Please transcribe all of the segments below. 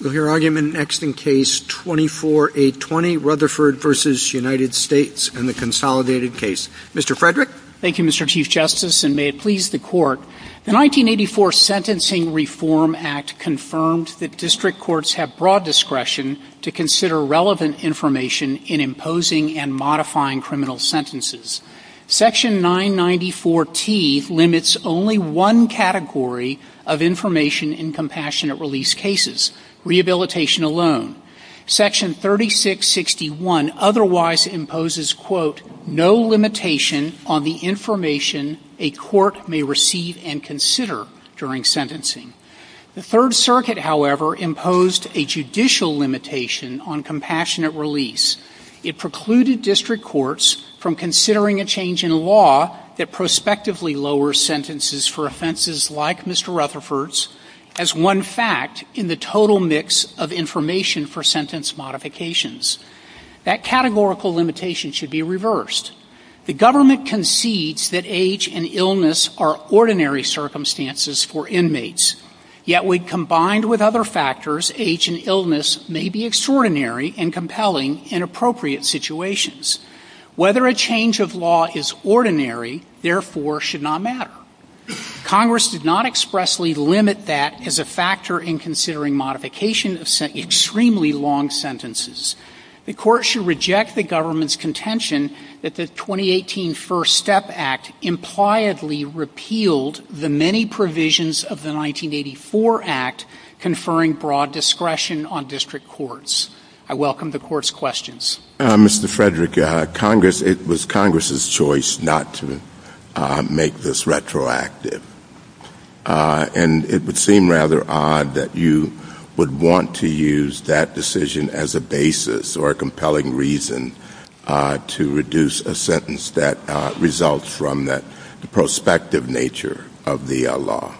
The 1984 Sentencing Reform Act confirmed that district courts have broad discretion to consider relevant information in imposing and modifying criminal sentences. Section 994T limits only one category of information in compassionate release cases. Section 3661 otherwise imposes, quote, no limitation on the information a court may receive and consider during sentencing. The Third Circuit, however, imposed a judicial limitation on compassionate release. It precluded district courts from considering a change in law that prospectively lowers sentences for offenses like Mr. Rutherford's as one fact in the total number of sentences that a court may receive and consider during sentencing. It also precludes a judicial mix of information for sentence modifications. That categorical limitation should be reversed. The government concedes that age and illness are ordinary circumstances for inmates. Yet, when combined with other factors, age and illness may be extraordinary and compelling in appropriate situations. Whether a change of law is ordinary, therefore, should not matter. Congress did not expressly limit that as a factor in considering modification of extremely long sentences. The Court should reject the government's contention that the 2018 First Step Act impliedly repealed the many provisions of the 1984 Act conferring broad discretion on district courts. I welcome the Court's questions. Mr. Frederick, it was Congress's choice not to make this retroactive. And it would seem rather odd that you would want to use that decision as a basis or a compelling reason to reduce a sentence that results from the prospective nature of the law.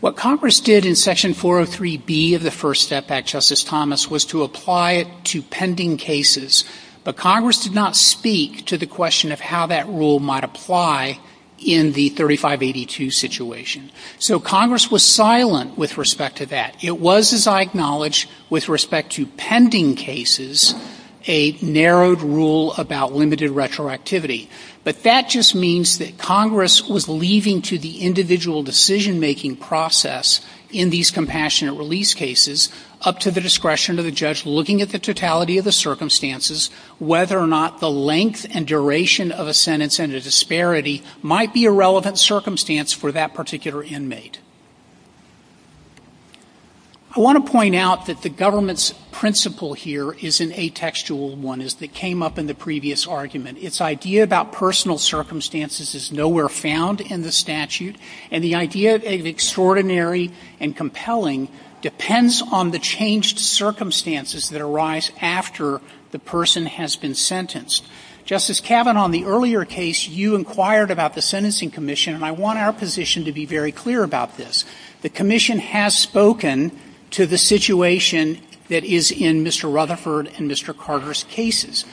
What Congress did in Section 403B of the First Step Act, Justice Thomas, was to apply it to pending cases. But Congress did not speak to the question of how that rule might apply in the 3582 situation. So, Congress was silent with respect to that. It was, as I acknowledge, with respect to pending cases, a narrowed rule about limited retroactivity. But that just means that Congress was leaving to the individual decision-making process in these compassionate release cases, up to the discretion of the judge, looking at the totality of the circumstances, whether or not the length and duration of a sentence and a disparity might be a relevant circumstance for that particular inmate. I want to point out that the government's principle here is an atextual one. It came up in the previous argument. Its idea about personal circumstances is nowhere found in the statute. And the idea of extraordinary and compelling depends on the changed circumstances that arise after the person has been sentenced. Justice Kavanaugh, in the earlier case, you inquired about the Sentencing Commission, and I want our position to be very clear about this. The Commission has spoken to the situation that is in Mr. Rutherford and Mr. Carter's cases.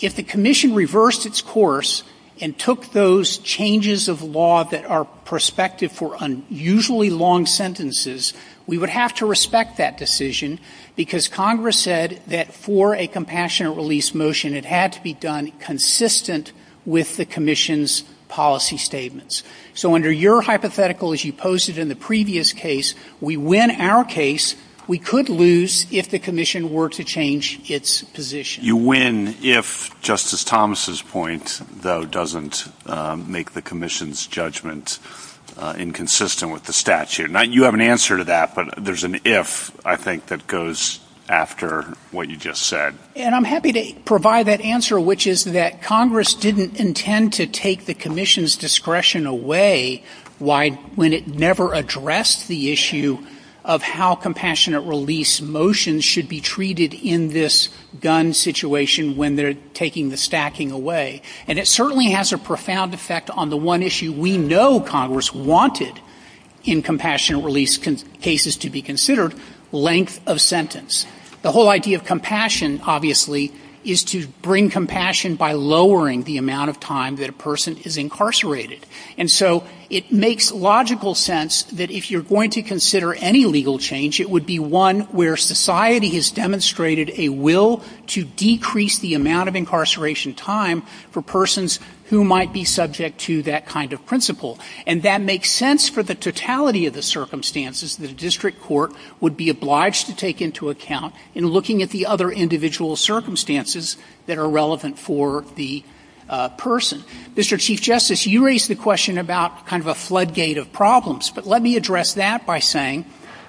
If the Commission reversed its course and took those changes of law that are prospective for unusually long sentences, we would have to respect that decision, because Congress said that for a compassionate release motion, it had to be done in a way that would allow the person to be released. And that decision would have to be done consistent with the Commission's policy statements. So under your hypothetical, as you posted in the previous case, we win our case. We could lose if the Commission were to change its position. You win if Justice Thomas's point, though, doesn't make the Commission's judgment inconsistent with the statute. You have an answer to that, but there's an if, I think, that goes after what you just said. And I'm happy to provide that answer, which is that Congress didn't intend to take the Commission's discretion away when it never addressed the issue of how compassionate release motions should be treated in this gun situation when they're taking the stacking away. And it certainly has a profound effect on the one issue we know Congress wanted in compassionate release cases to be considered, length of sentence. The whole idea of compassion, obviously, is to bring compassion by lowering the amount of time that a person is incarcerated. And so it makes logical sense that if you're going to consider any legal change, it would be one where society has demonstrated a will to decrease the amount of incarceration time for persons who might be subject to that kind of principle. And that makes sense for the totality of the circumstances that a district court would be obliged to take into account in looking at the other individual circumstances that are relevant for the person. Mr. Chief Justice, you raised the question about kind of a floodgate of problems, but let me address that by saying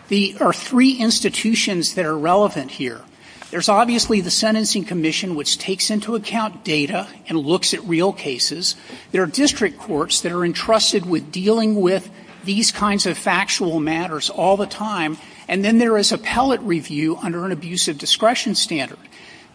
there are three institutions that are relevant here. There's obviously the Sentencing Commission, which takes into account data and looks at real cases. There are district courts that are entrusted with dealing with these kinds of factual matters all the time. And then there is appellate review under an abusive discretion standard.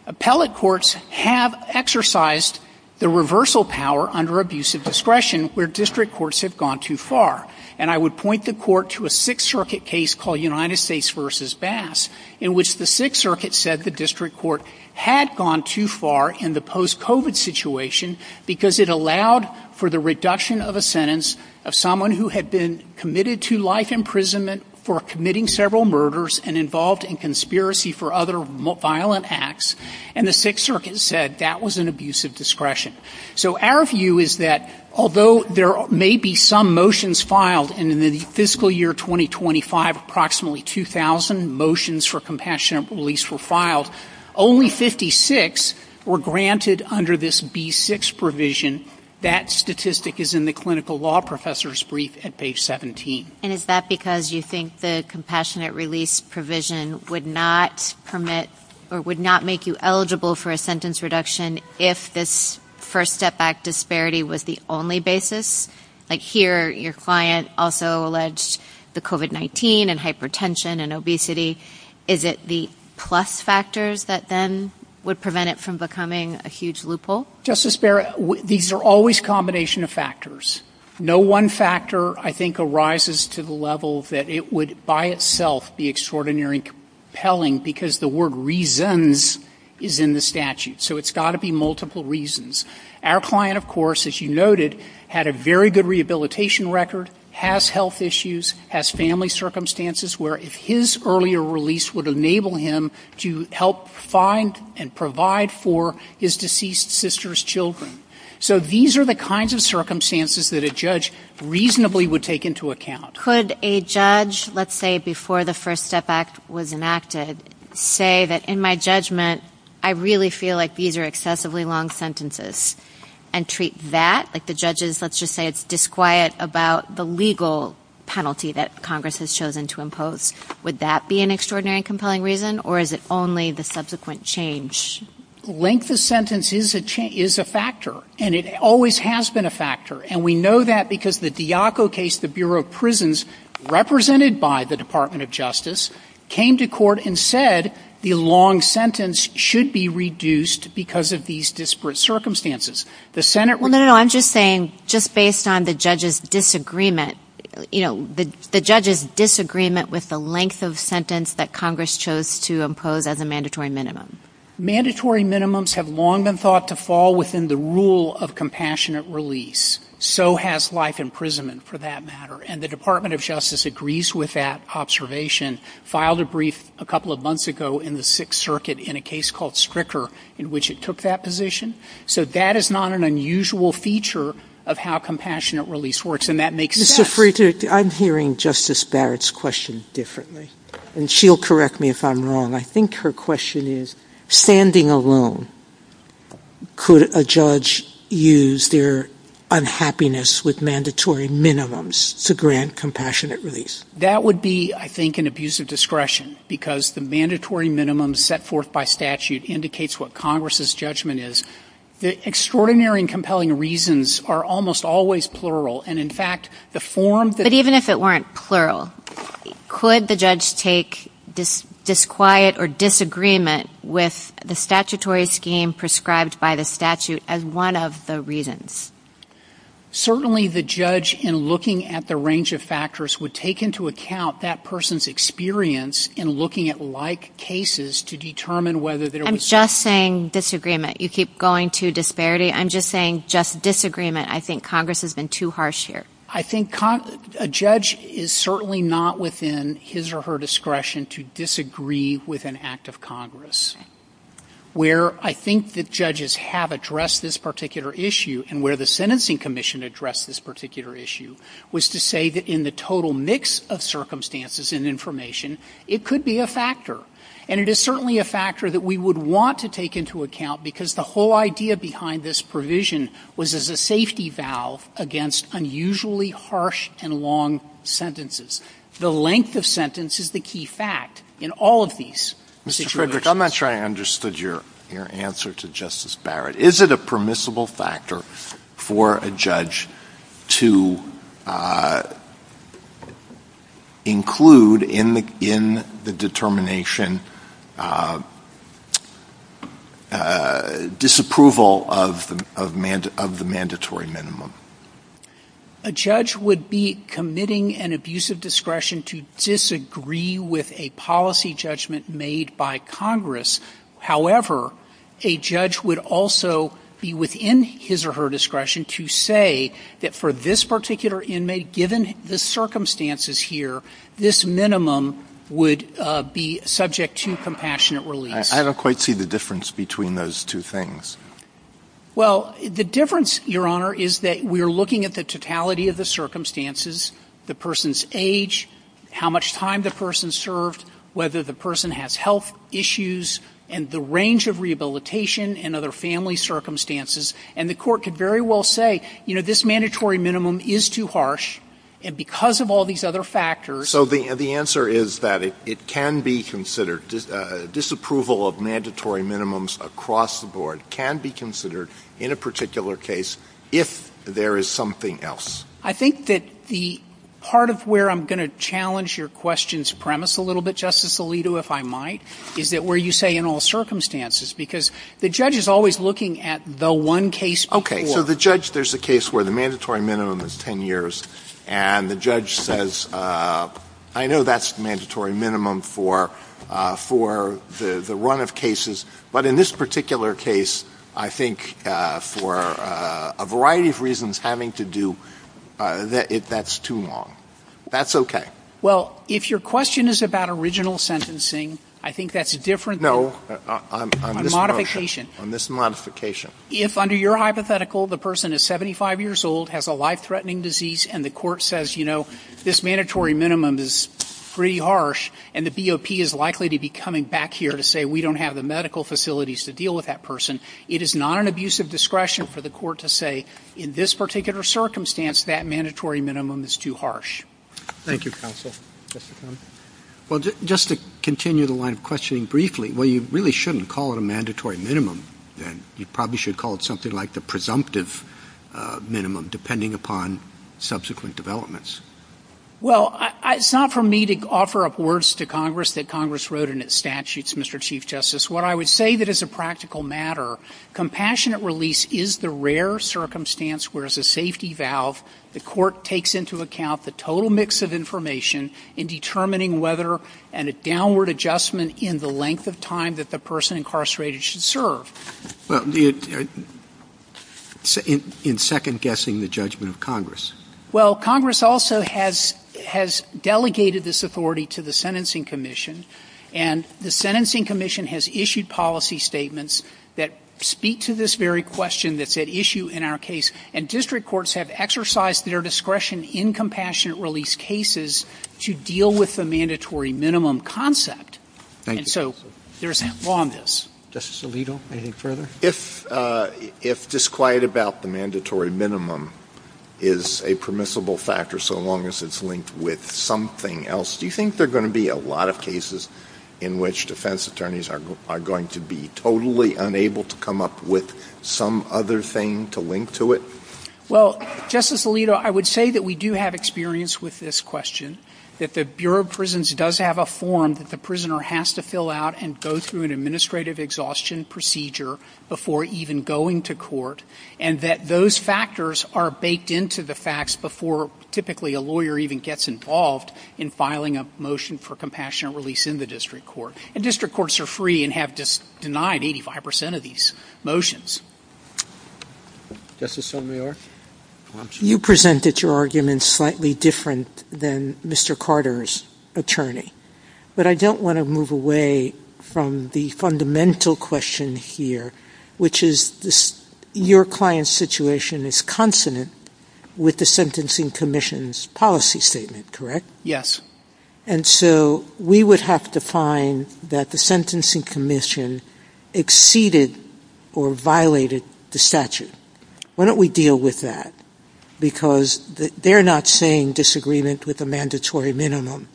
Appellate courts have exercised the reversal power under abusive discretion where district courts have gone too far. And I would point the court to a Sixth Circuit case called United States v. Bass in which the Sixth Circuit said the district court had gone too far in the post-COVID situation because it allowed for the reduction of a sentence of someone who had been committed to life imprisonment for committing several murders and involved in conspiracy for other violent acts. And the Sixth Circuit said that was an abusive discretion. So our view is that although there may be some motions filed in the fiscal year 2025, approximately 2,000 motions for compassionate release were filed, only 56 were granted under this B6 provision. That statistic is in the clinical law professor's brief at page 17. And is that because you think the compassionate release provision would not permit or would not make you eligible for a sentence reduction if this first step back disparity was the only basis? Like here, your client also alleged the COVID-19 and hypertension and obesity. Is it the plus factors that then would prevent it from becoming a huge loophole? Justice Barrett, these are always combination of factors. No one factor I think arises to the level that it would by itself be extraordinary compelling because the word reasons is in the statute. So it's got to be multiple reasons. Our client, of course, as you noted, had a very good rehabilitation record, has health issues, has family circumstances where his earlier release would enable him to help find and provide for his deceased sister's children. So these are the kinds of circumstances that a judge reasonably would take into account. Could a judge, let's say before the First Step Act was enacted, say that in my judgment, I really feel like these are excessively long sentences and treat that, like the judges, let's just say it's disquiet about the legal penalty that Congress has chosen to impose. Would that be an extraordinary compelling reason or is it only the subsequent change? Length of sentence is a factor. And it always has been a factor. And we know that because the Diaco case, the Bureau of Prisons, represented by the Department of Justice, came to court and said the long sentence should be reduced because of these disparate circumstances. Well, no, I'm just saying, just based on the judge's disagreement, you know, the judge's disagreement with the length of sentence that Congress chose to impose as a mandatory minimum. Mandatory minimums have long been thought to fall within the rule of compassionate release. So has life imprisonment, for that matter. And the Department of Justice agrees with that observation, filed a brief a couple of months ago in the Sixth Circuit in a case called Stricker, in which it took that position. So that is not an unusual feature of how compassionate release works. And that makes sense. I'm hearing Justice Barrett's question differently. And she'll correct me if I'm wrong. I think her question is, standing alone, could a judge use their unhappiness with mandatory minimums to grant compassionate release? That would be, I think, an abuse of discretion. Because the mandatory minimum set forth by statute indicates what Congress's judgment is. The extraordinary and compelling reasons are almost always plural. And in fact, the form that... But even if it weren't plural, could the judge take disquiet or disagreement with the statutory scheme prescribed by the statute as one of the reasons? Certainly the judge, in looking at the range of factors, would take into account that person's experience in looking at like cases to determine whether... I'm just saying disagreement. You keep going to disparity. I'm just saying just disagreement. I think Congress has been too harsh here. I think a judge is certainly not within his or her discretion to disagree with an act of Congress. Where I think the judges have addressed this particular issue, and where the Sentencing Commission addressed this particular issue, was to say that in the total mix of circumstances and information, it could be a factor. And it is certainly a factor that we would want to take into account, because the whole idea behind this provision was as a safety valve against unusually harsh and long sentences. The length of sentence is the key fact in all of these situations. Mr. Frederick, I'm not sure I understood your answer to Justice Barrett. Is it a permissible factor for a judge to include in the determination disapproval of the mandatory minimum? A judge would be committing an abuse of discretion to disagree with a policy judgment made by Congress. However, a judge would also be within his or her discretion to say that for this particular inmate, given the circumstances here, this minimum would be subject to compassionate release. I don't quite see the difference between those two things. Well, the difference, Your Honor, is that we are looking at the totality of the circumstances, the person's age, how much time the person served, whether the person has health issues, and the range of rehabilitation and other family circumstances. And the court could very well say, you know, this mandatory minimum is too harsh, and because of all these other factors... in a particular case, if there is something else. I think that the part of where I'm going to challenge your question's premise a little bit, Justice Alito, if I might, is that where you say, in all circumstances, because the judge is always looking at the one case before... Okay, so the judge, there's a case where the mandatory minimum is 10 years, and the judge says, I know that's the mandatory minimum for the run of cases, but in this particular case, I think, for a variety of reasons, having to do... that's too long. That's okay. Well, if your question is about original sentencing, I think that's a different... No, I'm... A modification. A mis-modification. If, under your hypothetical, the person is 75 years old, has a life-threatening disease, and the court says, you know, this mandatory minimum is pretty harsh, and the BOP is likely to be coming back here to say, we don't have the medical facilities to deal with that person, it is not an abusive discretion for the court to say, in this particular circumstance, that mandatory minimum is too harsh. Thank you, counsel. Well, just to continue the line of questioning briefly, well, you really shouldn't call it a mandatory minimum. You probably should call it something like the presumptive minimum, depending upon subsequent developments. Well, it's not for me to offer up words to Congress that Congress wrote in its statutes, Mr. Chief Justice. What I would say that, as a practical matter, compassionate release is the rare circumstance where, as a safety valve, the court takes into account the total mix of information in determining whether... and a downward adjustment in the length of time that the person incarcerated should serve. Well, in second-guessing the judgment of Congress. Well, Congress also has delegated this authority to the Sentencing Commission, and the Sentencing Commission has issued policy statements that speak to this very question that's at issue in our case, and district courts have exercised their discretion in compassionate release cases to deal with the mandatory minimum concept. Thank you, counsel. And so there's law on this. Justice Alito, anything further? If disquiet about the mandatory minimum is a permissible factor so long as it's linked with something else, do you think there are going to be a lot of cases in which defense attorneys are going to be totally unable to come up with some other thing to link to it? Well, Justice Alito, I would say that we do have experience with this question, that the Bureau of Prisons does have a form that the prisoner has to fill out and go through an administrative exhaustion procedure before even going to court, and that those factors are baked into the facts before, typically, a lawyer even gets involved in filing a motion for compassionate release in the district court. And district courts are free and have denied 85 percent of these motions. Justice Sotomayor? You presented your argument slightly different than Mr. Carter's attorney, but I don't want to move away from the fundamental question here, which is your client's situation is consonant with the Sentencing Commission's policy statement, correct? Yes. And so we would have to find that the Sentencing Commission exceeded or violated the statute. Why don't we deal with that? Because they're not saying disagreement with a mandatory minimum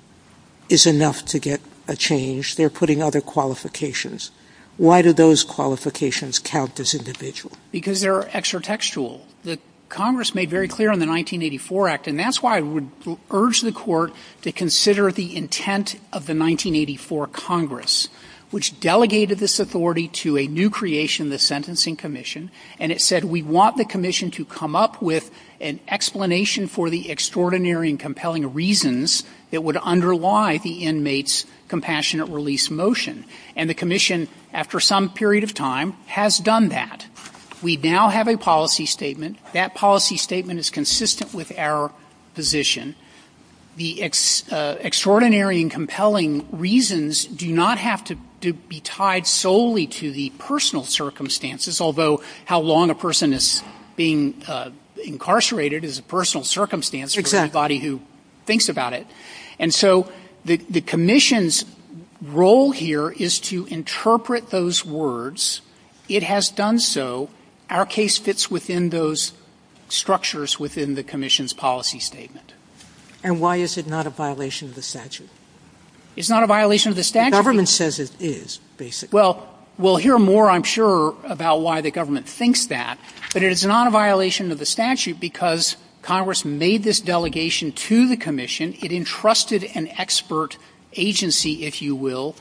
is enough to get a change. They're putting other qualifications. Why do those qualifications count as individual? Because they're extra textual. Congress made very clear in the 1984 Act, and that's why I would urge the court to consider the intent of the 1984 Congress, which delegated this authority to a new creation, the Sentencing Commission, and it said we want the commission to come up with an explanation for the extraordinary and compelling reasons that would underlie the inmate's compassionate release motion. And the commission, after some period of time, has done that. We now have a policy statement. That policy statement is consistent with our position. The extraordinary and compelling reasons do not have to be tied solely to the personal circumstances, although how long a person is being incarcerated is a personal circumstance for anybody who thinks about it. And so the commission's role here is to interpret those words. It has done so. Our case fits within those structures within the commission's policy statement. And why is it not a violation of the statute? It's not a violation of the statute. The government says it is, basically. Well, we'll hear more, I'm sure, about why the government thinks that. But it is not a violation of the statute because Congress made this delegation to the commission. It entrusted an expert agency, if you will,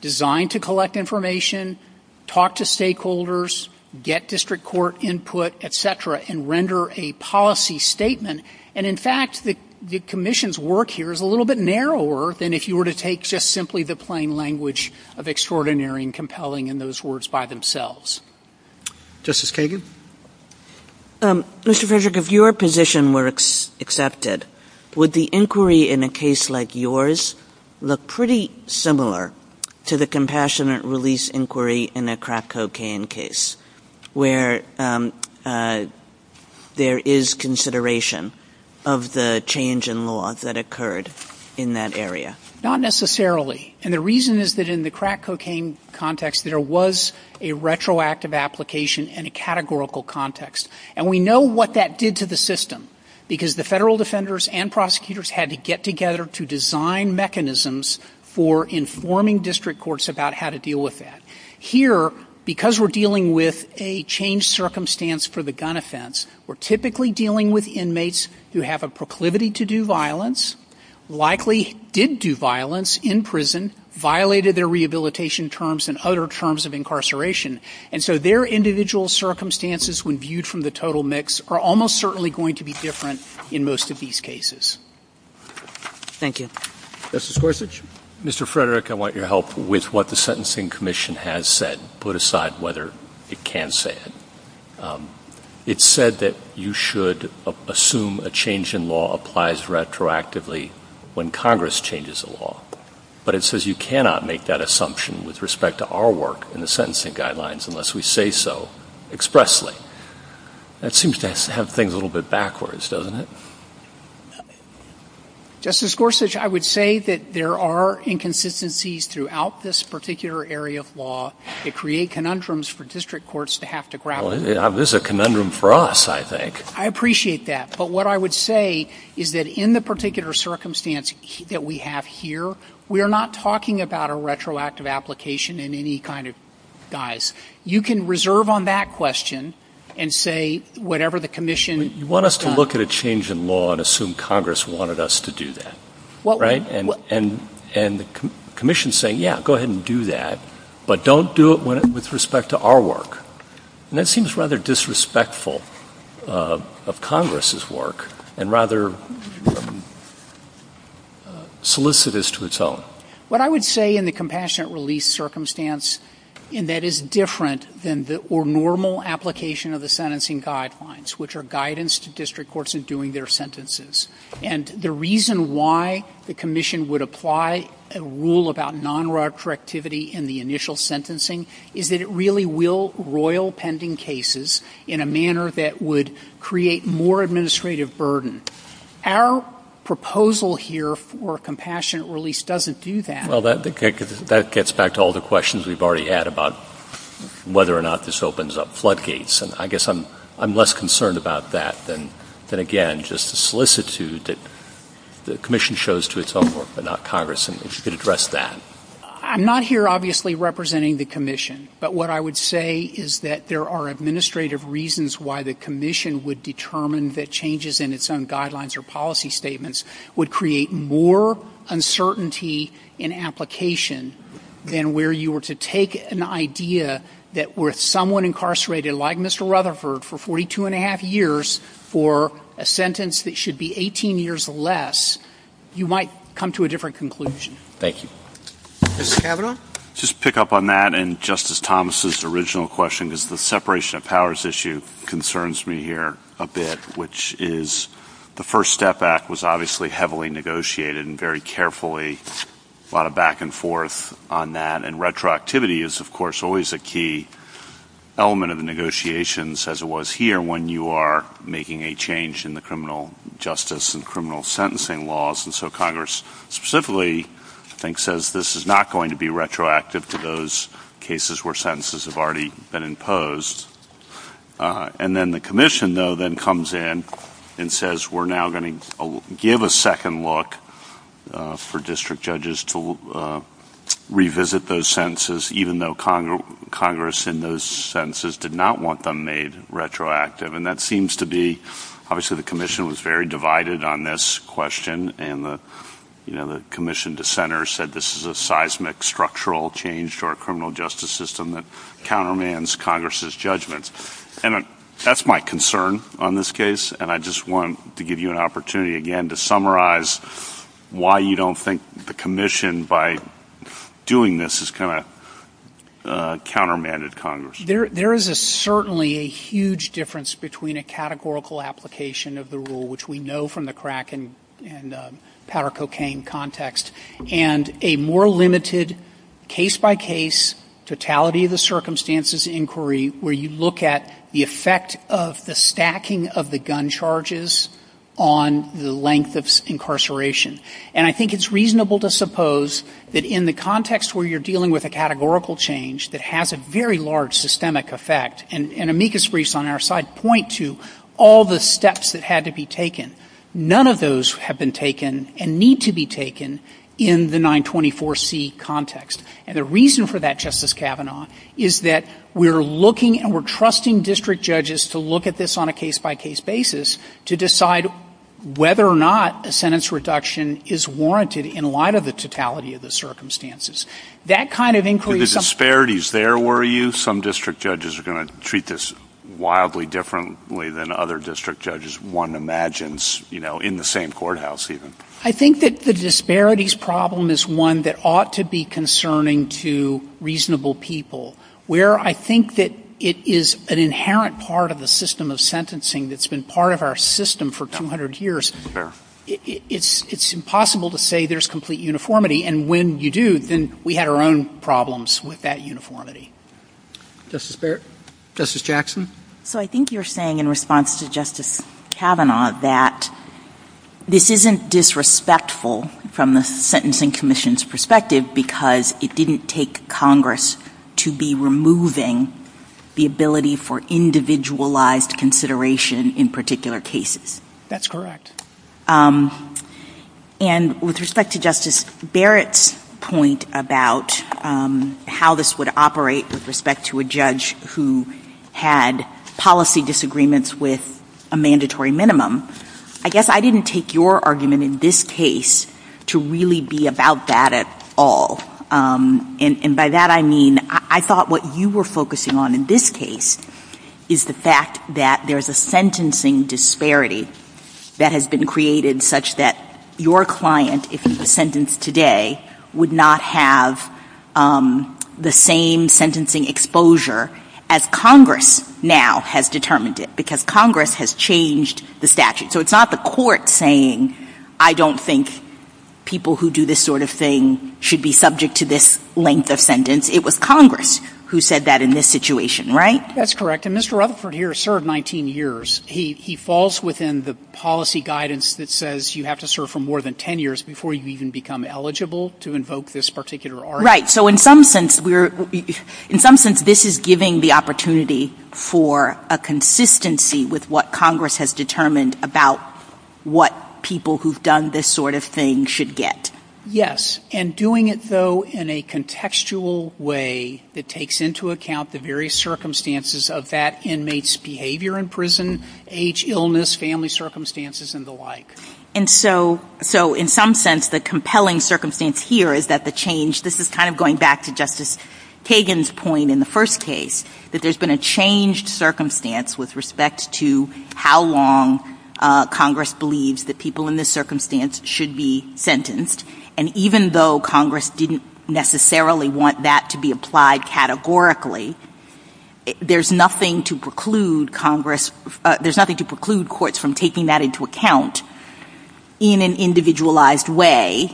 designed to collect information, talk to stakeholders, get district court input, et cetera, and render a policy statement. And, in fact, the commission's work here is a little bit narrower than if you were to take It's just simply the plain language of extraordinary and compelling in those words by themselves. Justice Kagan? Mr. Frederick, if your position were accepted, would the inquiry in a case like yours look pretty similar to the compassionate release inquiry in a crack cocaine case where there is consideration of the change in law that occurred in that area? Not necessarily. And the reason is that in the crack cocaine context, there was a retroactive application and a categorical context. And we know what that did to the system because the federal defenders and prosecutors had to get together to design mechanisms for informing district courts about how to deal with that. Here, because we're dealing with a changed circumstance for the gun offense, we're typically dealing with inmates who have a proclivity to do violence, likely did do violence in prison, violated their rehabilitation terms and other terms of incarceration. And so their individual circumstances, when viewed from the total mix, are almost certainly going to be different in most of these cases. Thank you. Justice Gorsuch? Mr. Frederick, I want your help with what the Sentencing Commission has said, put aside whether it can say it. It said that you should assume a change in law applies retroactively when Congress changes the law. But it says you cannot make that assumption with respect to our work in the sentencing guidelines unless we say so expressly. That seems to have things a little bit backwards, doesn't it? Justice Gorsuch, I would say that there are inconsistencies throughout this particular area of law. It creates conundrums for district courts to have to grapple with. This is a conundrum for us, I think. I appreciate that. But what I would say is that in the particular circumstance that we have here, we are not talking about a retroactive application in any kind of guise. You can reserve on that question and say whatever the commission has done. You want us to look at a change in law and assume Congress wanted us to do that, right? And the commission is saying, yeah, go ahead and do that. But don't do it with respect to our work. And that seems rather disrespectful of Congress's work and rather solicitous to its own. What I would say in the compassionate release circumstance, and that is different than the normal application of the sentencing guidelines, which are guidance to district courts in doing their sentences, and the reason why the commission would apply a rule about nonretroactivity in the initial sentencing is that it really will royal pending cases in a manner that would create more administrative burden. Our proposal here for compassionate release doesn't do that. Well, that gets back to all the questions we've already had about whether or not this opens up floodgates. I guess I'm less concerned about that than, again, just a solicitude that the commission shows to its own work, but not Congress, and if you could address that. I'm not here, obviously, representing the commission, but what I would say is that there are administrative reasons why the commission would determine that changes in its own guidelines or policy statements would create more uncertainty in application than where you were to take an idea that with someone incarcerated like Mr. Rutherford for 42 1⁄2 years for a sentence that should be 18 years or less, you might come to a different conclusion. Thank you. Mr. Cavanaugh? Just to pick up on that and Justice Thomas' original question, because the separation of powers issue concerns me here a bit, which is the First Step Act was obviously heavily negotiated and very carefully, a lot of back and forth on that, and retroactivity is, of course, always a key element of the negotiations as it was here when you are making a change in the criminal justice and criminal sentencing laws, and so Congress specifically, I think, says this is not going to be retroactive to those cases where sentences have already been imposed. And then the commission, though, then comes in and says, we're now going to give a second look for district judges to revisit those sentences, even though Congress in those sentences did not want them made retroactive, and that seems to be obviously the commission was very divided on this question, and the commission dissenters said this is a seismic structural change to our criminal justice system that countermands Congress's judgments. And that's my concern on this case, and I just wanted to give you an opportunity again to summarize why you don't think the commission, by doing this, has kind of countermanded Congress. There is certainly a huge difference between a categorical application of the rule, which we know from the crack and powder cocaine context, and a more limited case-by-case, totality-of-the-circumstances inquiry where you look at the effect of the stacking of the gun charges on the length of incarceration. And I think it's reasonable to suppose that in the context where you're dealing with a categorical change that has a very large systemic effect, and amicus briefs on our side point to all the steps that had to be taken, none of those have been taken and need to be taken in the 924C context. And the reason for that, Justice Kavanaugh, is that we're looking and we're trusting district judges to look at this on a case-by-case basis to decide whether or not a sentence reduction is warranted in light of the totality of the circumstances. That kind of inquiry... The disparity is there, were you? Some district judges are going to treat this wildly differently than other district judges one imagines, you know, in the same courthouse, even. I think that the disparities problem is one that ought to be concerning to reasonable people. Where I think that it is an inherent part of the system of sentencing that's been part of our system for 200 years, it's impossible to say there's complete uniformity, and when you do, then we had our own problems with that uniformity. Justice Barrett? Justice Jackson? So I think you're saying in response to Justice Kavanaugh that this isn't disrespectful from the Sentencing Commission's perspective because it didn't take Congress to be removing the ability for individualized consideration in particular cases. That's correct. And with respect to Justice Barrett's point about how this would operate with respect to a judge who had policy disagreements with a mandatory minimum, I guess I didn't take your argument in this case to really be about that at all. And by that I mean I thought what you were focusing on in this case is the fact that there's a sentencing disparity that has been created such that your client, if it's a sentence today, would not have the same sentencing exposure as Congress now has determined it because Congress has changed the statute. So it's not the court saying, I don't think people who do this sort of thing should be subject to this length of sentence. It was Congress who said that in this situation, right? That's correct. And Mr. Rutherford here served 19 years. He falls within the policy guidance that says you have to serve for more than 10 years before you even become eligible to invoke this particular argument. Right. So in some sense this is giving the opportunity for a consistency with what Congress has determined about what people who've done this sort of thing should get. Yes. And doing it, though, in a contextual way that takes into account the various circumstances of that inmate's behavior in prison, age, illness, family circumstances, and the like. And so in some sense the compelling circumstance here is that the change, this is kind of going back to Justice Kagan's point in the first case, that there's been a changed circumstance with respect to how long Congress believes that people in this circumstance should be sentenced. And even though Congress didn't necessarily want that to be applied categorically, there's nothing to preclude Congress, there's nothing to preclude courts from taking that into account in an individualized way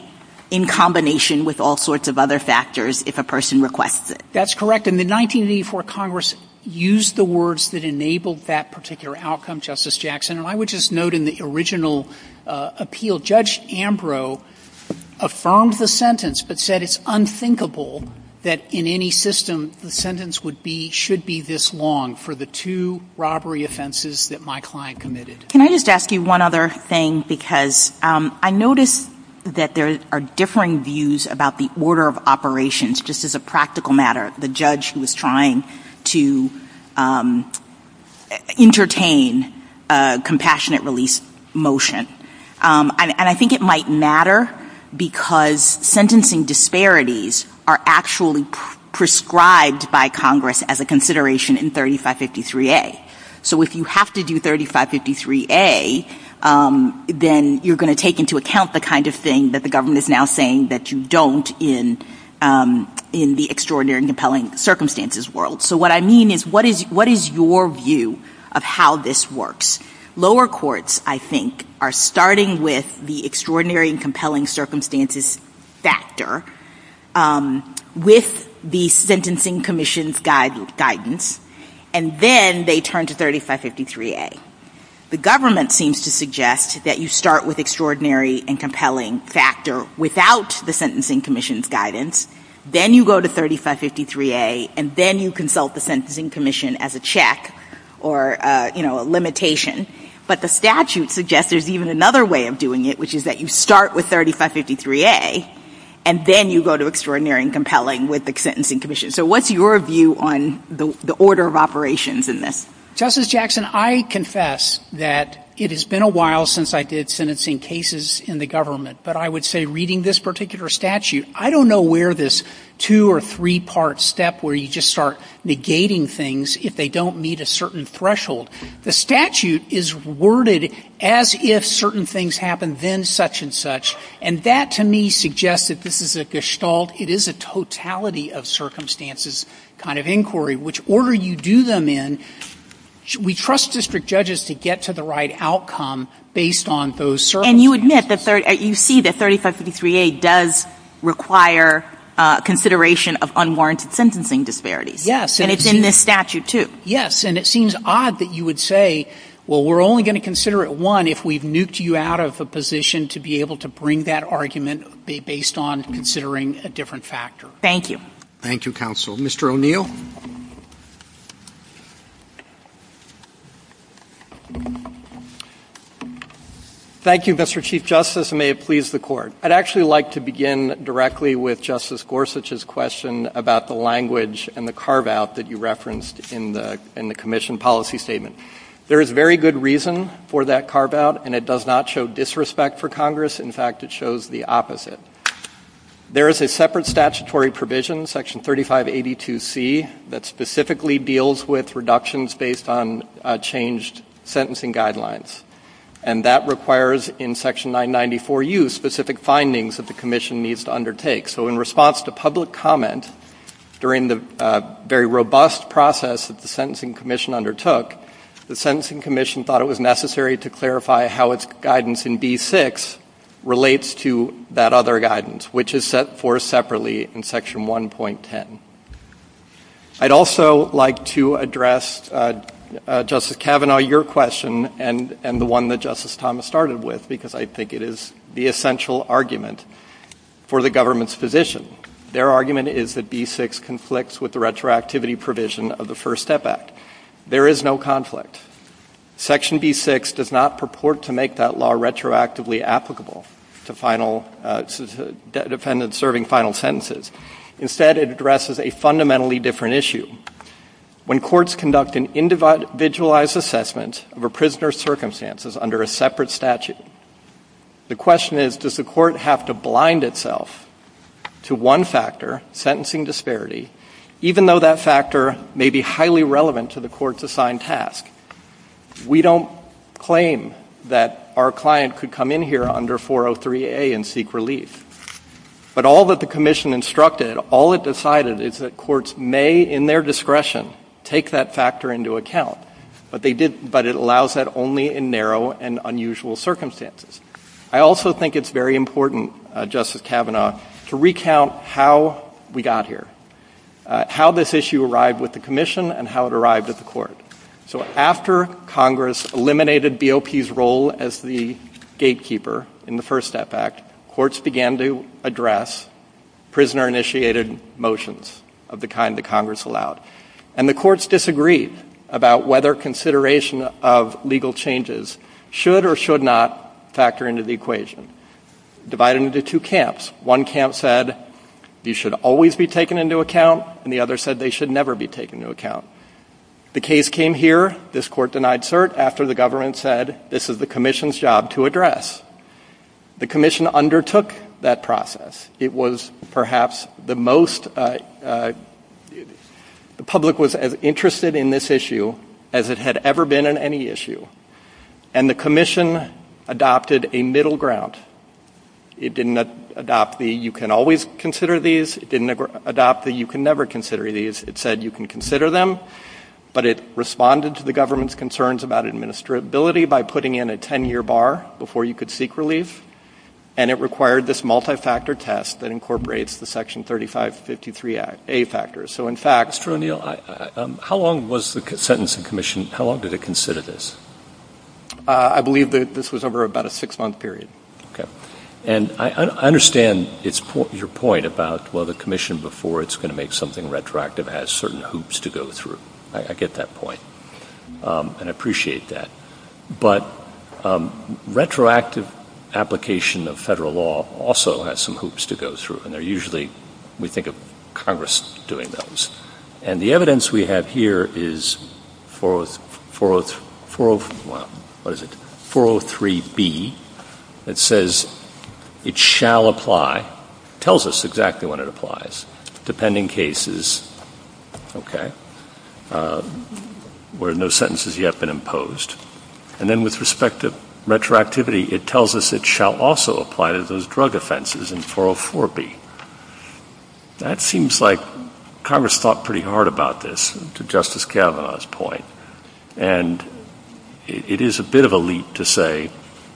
in combination with all sorts of other factors if a person requests it. That's correct. And in 1984 Congress used the words that enabled that particular outcome, Justice Jackson. And I would just note in the original appeal Judge Ambrose affirmed the sentence but said it's unthinkable that in any system the sentence should be this long for the two robbery offenses that my client committed. Can I just ask you one other thing? Because I notice that there are differing views about the order of operations, just as a practical matter. The judge who was trying to entertain a compassionate release motion. And I think it might matter because sentencing disparities are actually prescribed by Congress as a consideration in 3553A. So if you have to do 3553A, then you're going to take into account the kind of thing that the government is now saying that you don't in the extraordinary and compelling circumstances world. So what I mean is what is your view of how this works? Lower courts, I think, are starting with the extraordinary and compelling circumstances factor with the sentencing commission's guidance, and then they turn to 3553A. The government seems to suggest that you start with extraordinary and compelling factor without the sentencing commission's guidance, then you go to 3553A, and then you consult the sentencing commission as a check or a limitation. But the statute suggests there's even another way of doing it, which is that you start with 3553A, and then you go to extraordinary and compelling with the sentencing commission. So what's your view on the order of operations in this? Justice Jackson, I confess that it has been a while since I did sentencing cases in the government, but I would say reading this particular statute, I don't know where this two- or three-part step where you just start negating things if they don't meet a certain threshold. The statute is worded as if certain things happen, then such and such, and that to me suggests that this is a gestalt. It is a totality of circumstances kind of inquiry, which order you do them in, we trust district judges to get to the right outcome based on those circumstances. And you admit that you see that 3553A does require consideration of unwarranted sentencing disparities. Yes. And it's in this statute, too. Yes, and it seems odd that you would say, well, we're only going to consider it, one, if we've nuked you out of a position to be able to bring that argument based on considering a different factor. Thank you. Thank you, counsel. Mr. O'Neill. Thank you, Mr. Chief Justice, and may it please the Court. I'd actually like to begin directly with Justice Gorsuch's question about the language and the carve-out that you referenced in the commission policy statement. There is very good reason for that carve-out, and it does not show disrespect for Congress. In fact, it shows the opposite. There is a separate statutory provision, Section 3582C, that specifically deals with reductions based on changed sentencing guidelines, and that requires in Section 994U specific findings that the commission needs to undertake. So in response to public comment during the very robust process that the Sentencing Commission undertook, the Sentencing Commission thought it was necessary to clarify how its guidance in B6 relates to that other guidance, which is set forth separately in Section 1.10. I'd also like to address, Justice Kavanaugh, your question and the one that Justice Thomas started with, because I think it is the essential argument for the government's position. Their argument is that B6 conflicts with the retroactivity provision of the First Step Act. There is no conflict. Section B6 does not purport to make that law retroactively applicable to defendants serving final sentences. Instead, it addresses a fundamentally different issue. When courts conduct an individualized assessment of a prisoner's circumstances under a separate statute, the question is, does the court have to blind itself to one factor, sentencing disparity, even though that factor may be highly relevant to the court's assigned task? We don't claim that our client could come in here under 403A and seek relief. But all that the commission instructed, all it decided, is that courts may, in their discretion, take that factor into account, but it allows that only in narrow and unusual circumstances. I also think it's very important, Justice Kavanaugh, to recount how we got here, how this issue arrived with the commission and how it arrived at the court. So after Congress eliminated BOP's role as the gatekeeper in the First Step Act, courts began to address prisoner-initiated motions of the kind that Congress allowed. And the courts disagreed about whether consideration of legal changes should or should not factor into the equation. Divide it into two camps. One camp said, you should always be taken into account, and the other said they should never be taken into account. The case came here, this court denied cert, after the government said, this is the commission's job to address. The commission undertook that process. It was perhaps the most, the public was as interested in this issue as it had ever been in any issue. And the commission adopted a middle ground. It didn't adopt the, you can always consider these. It didn't adopt the, you can never consider these. It said, you can consider them. But it responded to the government's concerns about administrability by putting in a 10-year bar before you could seek release. And it required this multi-factor test that incorporates the Section 3553A factors. So, in fact, Mr. O'Neill, how long was the sentencing commission, how long did it consider this? I believe that this was over about a six-month period. Okay. And I understand your point about, well, the commission, before it's going to make something retroactive, has certain hoops to go through. I get that point. And I appreciate that. But retroactive application of federal law also has some hoops to go through. And they're usually, we think of Congress doing those. And the evidence we have here is 403B. It says it shall apply, tells us exactly when it applies, depending cases, okay, where no sentences yet have been imposed. And then with respect to retroactivity, it tells us it shall also apply to those drug offenses in 404B. That seems like Congress thought pretty hard about this, to Justice Kavanaugh's point. And it is a bit of a leap to say,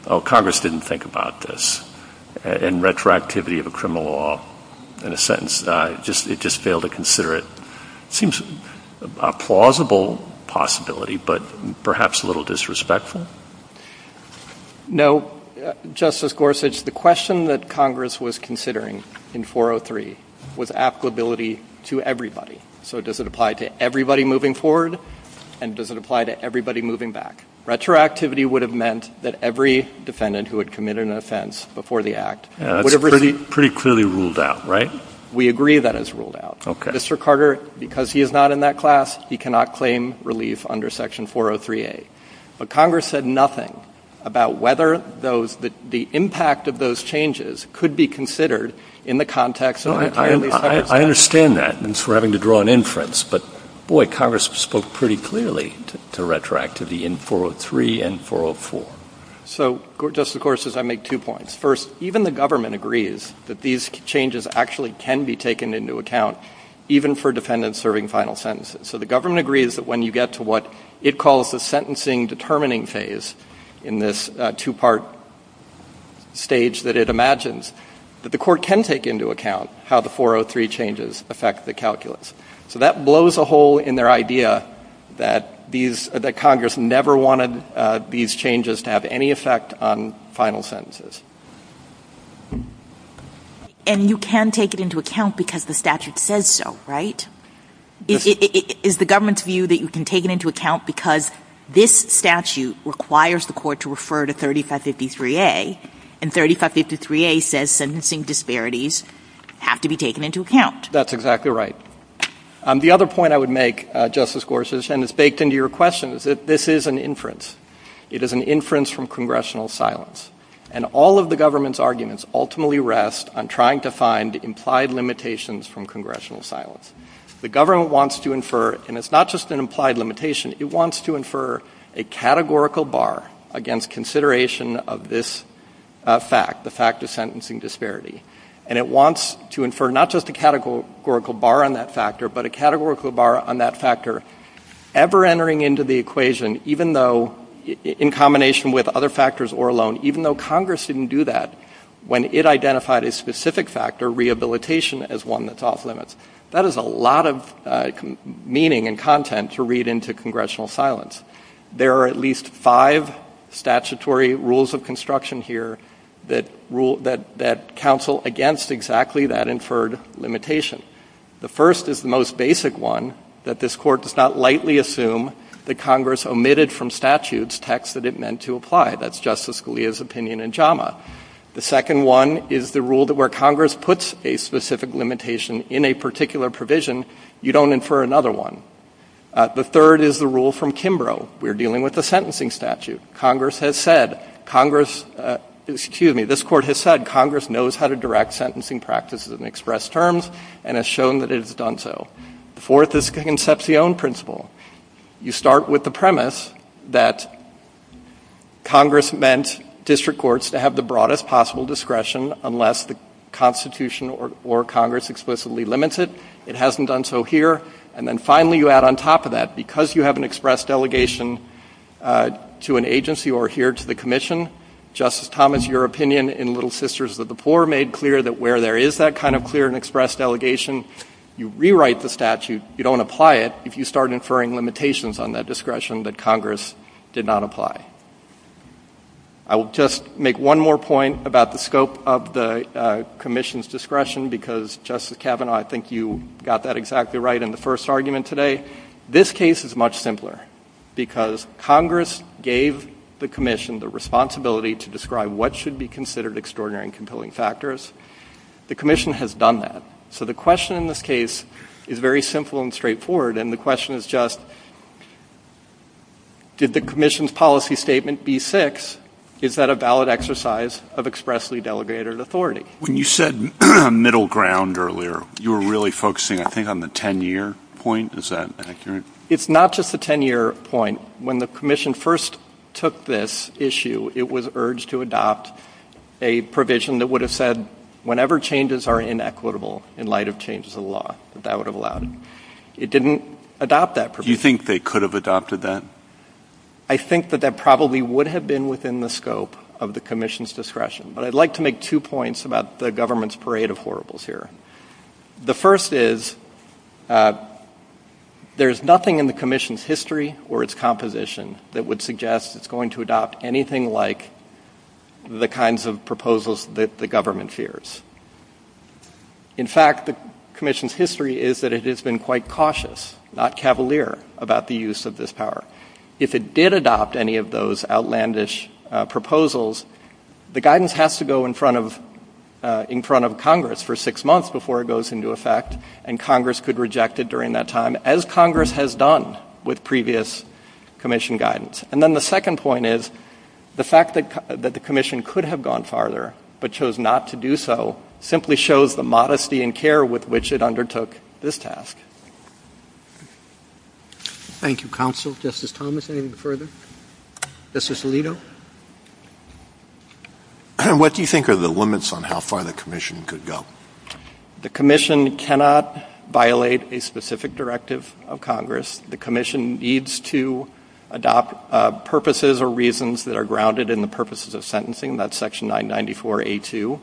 oh, Congress didn't think about this, and retroactivity of a criminal law in a sentence. It just failed to consider it. It seems a plausible possibility, but perhaps a little disrespectful. No. Justice Gorsuch, the question that Congress was considering in 403 was applicability to everybody. So does it apply to everybody moving forward? And does it apply to everybody moving back? Retroactivity would have meant that every defendant who had committed an offense before the act. It's pretty clearly ruled out, right? We agree that it's ruled out. Okay. Mr. Carter, because he is not in that class, he cannot claim relief under Section 403A. But Congress said nothing about whether the impact of those changes could be considered in the context of an entirely separate case. I understand that, and so we're having to draw an inference. But, boy, Congress spoke pretty clearly to retroactivity in 403 and 404. So, Justice Gorsuch, I make two points. First, even the government agrees that these changes actually can be taken into account, even for defendants serving final sentences. So the government agrees that when you get to what it calls the sentencing determining phase in this two-part stage that it imagines, that the court can take into account how the 403 changes affect the calculus. So that blows a hole in their idea that Congress never wanted these changes to have any effect on final sentences. And you can take it into account because the statute says so, right? Is the government's view that you can take it into account because this statute requires the court to refer to 3553A, and 3553A says sentencing disparities have to be taken into account? That's exactly right. The other point I would make, Justice Gorsuch, and it's baked into your question, is that this is an inference. It is an inference from congressional silence. And all of the government's arguments ultimately rest on trying to find implied limitations from congressional silence. The government wants to infer, and it's not just an implied limitation, it wants to infer a categorical bar against consideration of this fact, the fact of sentencing disparity. And it wants to infer not just a categorical bar on that factor, but a categorical bar on that factor ever entering into the equation, even though in combination with other factors or alone, even though Congress didn't do that, when it identified a specific factor, rehabilitation, as one that's off limits. That is a lot of meaning and content to read into congressional silence. There are at least five statutory rules of construction here that rule, that counsel against exactly that inferred limitation. The first is the most basic one, that this Court does not lightly assume that Congress omitted from statutes text that it meant to apply. That's Justice Scalia's opinion in JAMA. The second one is the rule that where Congress puts a specific limitation in a particular provision, you don't infer another one. The third is the rule from Kimbrough. We're dealing with a sentencing statute. Congress has said, Congress, excuse me, this Court has said Congress knows how to direct sentencing practices and express terms and has shown that it has done so. The fourth is the Concepcion principle. You start with the premise that Congress meant district courts to have the broadest possible discretion unless the Constitution or Congress explicitly limits it. It hasn't done so here. And then finally you add on top of that, because you have an express delegation to an agency or here to the Commission, Justice Thomas, your opinion in Little Sisters of the Poor made clear that where there is that kind of clear and express delegation, you rewrite the statute. You don't apply it if you start inferring limitations on that discretion that Congress did not apply. I will just make one more point about the scope of the Commission's discretion because, Justice Kavanaugh, I think you got that exactly right in the first argument today. This case is much simpler because Congress gave the Commission the responsibility to describe what should be considered extraordinary and compelling factors. The Commission has done that. So the question in this case is very simple and straightforward, and the question is just did the Commission's policy statement B6, is that a valid exercise of expressly delegated authority? When you said middle ground earlier, you were really focusing, I think, on the 10-year point. Is that accurate? It's not just the 10-year point. When the Commission first took this issue, it was urged to adopt a provision that would have said whenever changes are inequitable in light of changes to the law, that that would have allowed it. It didn't adopt that provision. Do you think they could have adopted that? I think that that probably would have been within the scope of the Commission's discretion. But I'd like to make two points about the government's parade of horribles here. The first is there is nothing in the Commission's history or its composition that would suggest it's going to adopt anything like the kinds of proposals that the government fears. In fact, the Commission's history is that it has been quite cautious, not cavalier, about the use of this power. If it did adopt any of those outlandish proposals, the guidance has to go in front of Congress for six months before it goes into effect, and Congress could reject it during that time, as Congress has done with previous Commission guidance. And then the second point is the fact that the Commission could have gone farther but chose not to do so simply shows the modesty and care with which it undertook this task. Thank you. Thank you, Counsel. Justice Thomas, anything further? Justice Alito? What do you think are the limits on how far the Commission could go? The Commission cannot violate a specific directive of Congress. The Commission needs to adopt purposes or reasons that are grounded in the purposes of sentencing. That's Section 994A2.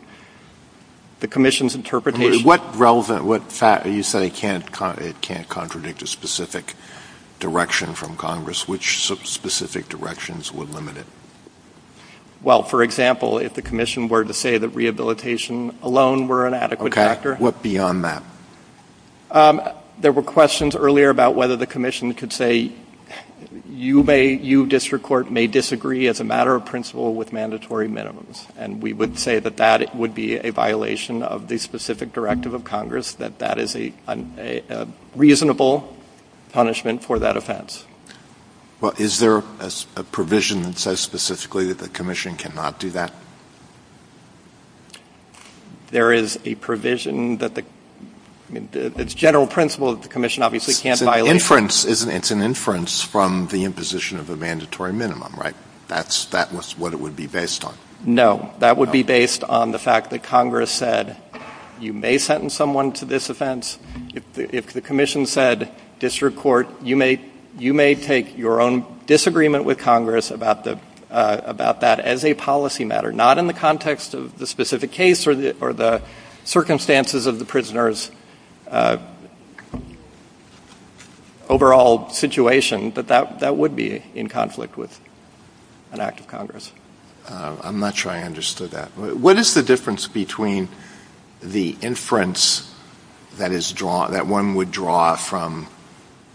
The Commission's interpretation... You said it can't contradict a specific direction from Congress. Which specific directions would limit it? Well, for example, if the Commission were to say that rehabilitation alone were an adequate factor... Okay. What beyond that? There were questions earlier about whether the Commission could say, you district court may disagree as a matter of principle with mandatory minimums, and we would say that that would be a violation of the specific directive of Congress, that that is a reasonable punishment for that offense. Well, is there a provision that says specifically that the Commission cannot do that? There is a provision that the general principle of the Commission obviously can't violate. It's an inference from the imposition of a mandatory minimum, right? That's what it would be based on? No. That would be based on the fact that Congress said you may sentence someone to this offense. If the Commission said, district court, you may take your own disagreement with Congress about that as a policy matter, not in the context of the specific case or the circumstances of the prisoner's overall situation, but that would be in conflict with an act of Congress. I'm not sure I understood that. What is the difference between the inference that one would draw from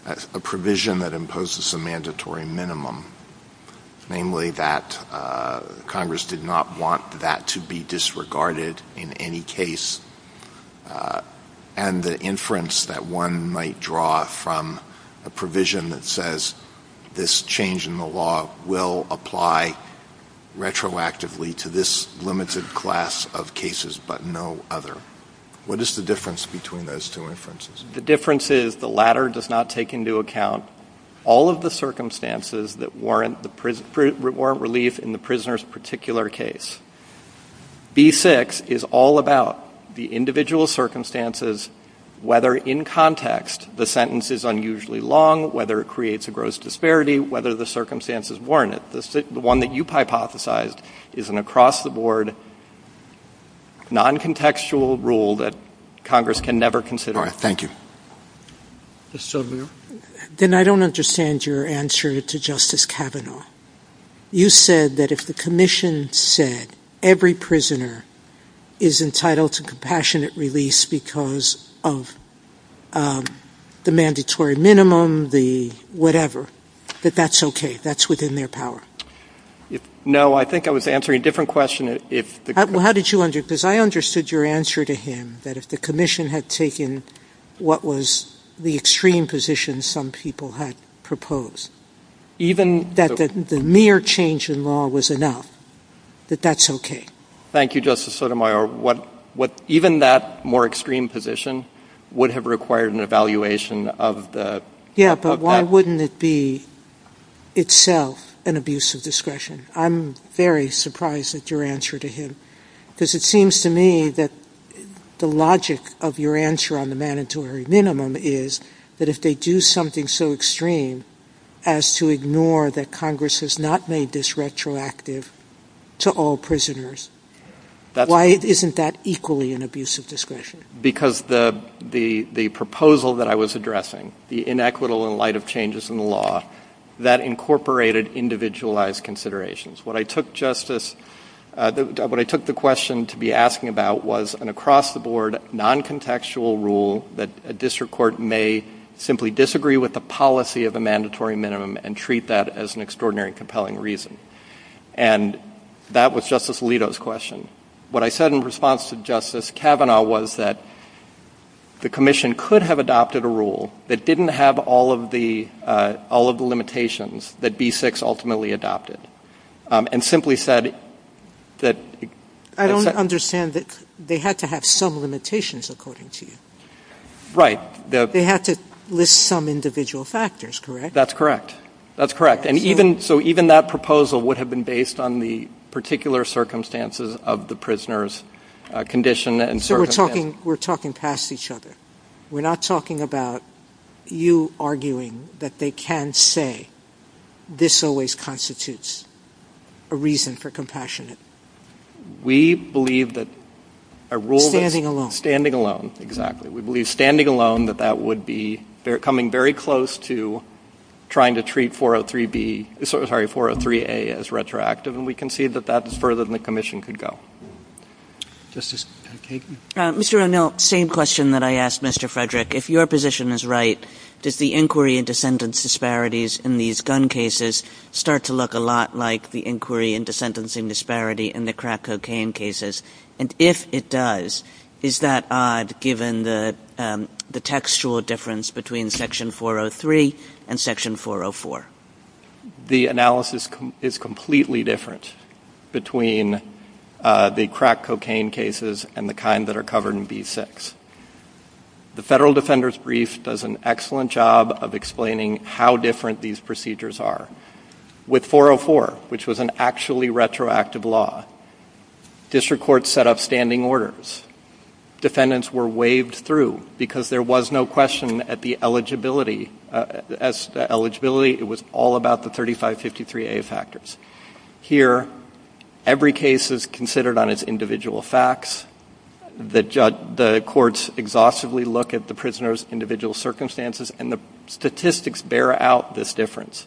a provision that imposes a mandatory minimum, namely that Congress did not want that to be disregarded in any case, and the inference that one might draw from a provision that says this change in the law will apply retroactively to this limited class of cases but no other? What is the difference between those two inferences? The difference is the latter does not take into account all of the circumstances that warrant relief in the prisoner's particular case. B-6 is all about the individual circumstances, whether in context the sentence is unusually long, whether it creates a gross disparity, whether the circumstances warrant it. The one that you hypothesized is an across-the-board, non-contextual rule that Congress can never consider. All right. Thank you. Ms. Silver? Then I don't understand your answer to Justice Kavanaugh. You said that if the Commission said every prisoner is entitled to compassionate release because of the mandatory minimum, the whatever, that that's okay, that's within their power. No, I think I was answering a different question. How did you answer it? Because I understood your answer to him, that if the Commission had taken what was the extreme position some people had proposed, that the mere change in law was enough, that that's okay. Thank you, Justice Sotomayor. Even that more extreme position would have required an evaluation of that. Yes, but why wouldn't it be itself an abuse of discretion? I'm very surprised at your answer to him, because it seems to me that the logic of your answer on the mandatory minimum is that if they do something so extreme as to ignore that Congress has not made this retroactive to all prisoners, why isn't that equally an abuse of discretion? Because the proposal that I was addressing, the inequitable in light of changes in the law, that incorporated individualized considerations. What I took the question to be asking about was an across-the-board, non-contextual rule that a district court may simply disagree with the policy of a mandatory minimum and treat that as an extraordinary and compelling reason. And that was Justice Alito's question. What I said in response to Justice Kavanaugh was that the Commission could have adopted a rule that didn't have all of the limitations that B-6 ultimately adopted, and simply said that... I don't understand that they had to have some limitations according to you. They have to list some individual factors, correct? That's correct. That's correct. And so even that proposal would have been based on the particular circumstances of the prisoners' condition. So we're talking past each other. We're not talking about you arguing that they can say, this always constitutes a reason for compassion. We believe that a rule... Standing alone. Standing alone, exactly. We believe standing alone that that would be... They're coming very close to trying to treat 403-B... Sorry, 403-A as retroactive, and we concede that that's further than the Commission could go. Justice Kagan? Mr. O'Neill, same question that I asked Mr. Frederick. If your position is right, does the inquiry into sentence disparities in these gun cases start to look a lot like the inquiry into sentencing disparity in the crack cocaine cases? And if it does, is that odd given the textual difference between Section 403 and Section 404? The analysis is completely different between the crack cocaine cases and the kind that are covered in B6. The Federal Defender's Brief does an excellent job of explaining how different these procedures are. With 404, which was an actually retroactive law, district courts set up standing orders. Defendants were waved through because there was no question at the eligibility. As to eligibility, it was all about the 3553-A factors. Here, every case is considered on its individual facts. The courts exhaustively look at the prisoners' individual circumstances, and the statistics bear out this difference.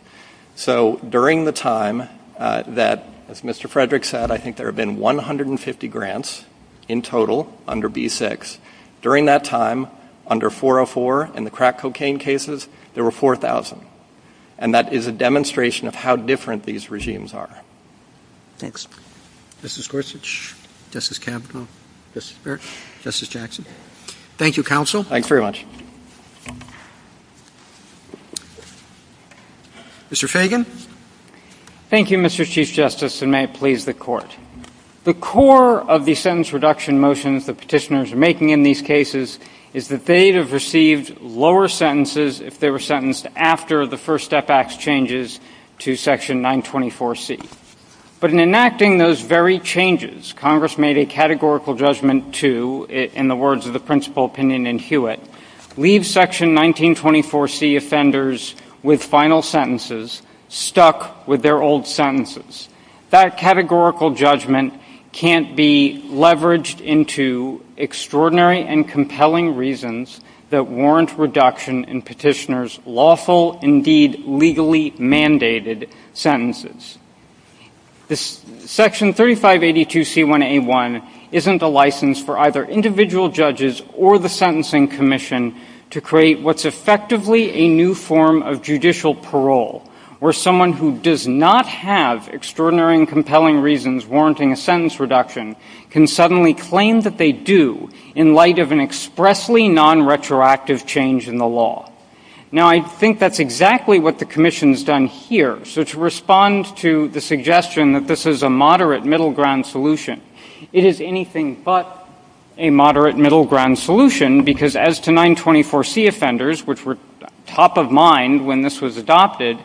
So during the time that, as Mr. Frederick said, I think there have been 150 grants in total under B6, during that time, under 404 in the crack cocaine cases, there were 4,000. And that is a demonstration of how different these regimes are. Justice Gorsuch? Justice Campbell? Justice Barrett? Justice Jackson? Thank you, Counsel. Thanks very much. Mr. Fagan? Thank you, Mr. Chief Justice, and may it please the Court. The core of the sentence reduction motions the petitioners are making in these cases is that they have received lower sentences if they were sentenced after the First Step Act changes to Section 924C. But in enacting those very changes, Congress made a categorical judgment to, in the words of the principal opinion in Hewitt, leave Section 1924C offenders with final sentences stuck with their old sentences. That categorical judgment can't be leveraged into extraordinary and compelling reasons that warrant reduction in petitioners' lawful, indeed legally mandated, sentences. Section 3582C1A1 isn't a license for either individual judges or the Sentencing Commission to create what's effectively a new form of judicial parole where someone who does not have extraordinary and compelling reasons warranting a sentence reduction can suddenly claim that they do in light of an expressly non-retroactive change in the law. Now, I think that's exactly what the Commission's done here. So to respond to the suggestion that this is a moderate middle ground solution, it is anything but a moderate middle ground solution because as to 924C offenders, which were top of mind when this was adopted,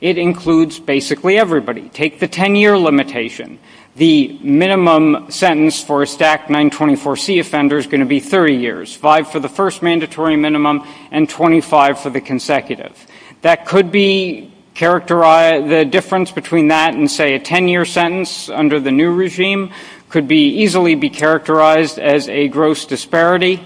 it includes basically everybody. Take the 10-year limitation. The minimum sentence for a stacked 924C offender is going to be 30 years, five for the first mandatory minimum and 25 for the consecutive. The difference between that and, say, a 10-year sentence under the new regime could easily be characterized as a gross disparity.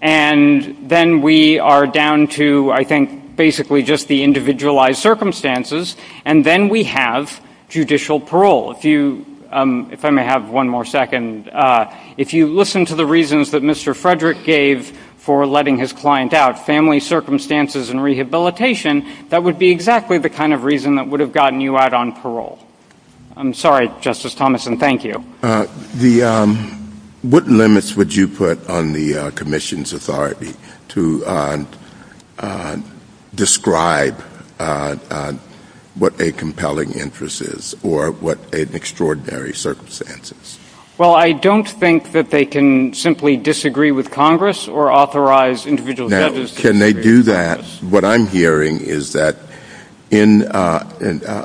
And then we are down to, I think, basically just the individualized circumstances, and then we have judicial parole. If I may have one more second. If you listen to the reasons that Mr. Frederick gave for letting his client out, family circumstances and rehabilitation, that would be exactly the kind of reason that would have gotten you out on parole. I'm sorry, Justice Thomas, and thank you. What limits would you put on the commission's authority to describe what a compelling interest is or what an extraordinary circumstance is? Well, I don't think that they can simply disagree with Congress or authorize individual judges to disagree with Congress. Can they do that? What I'm hearing is that in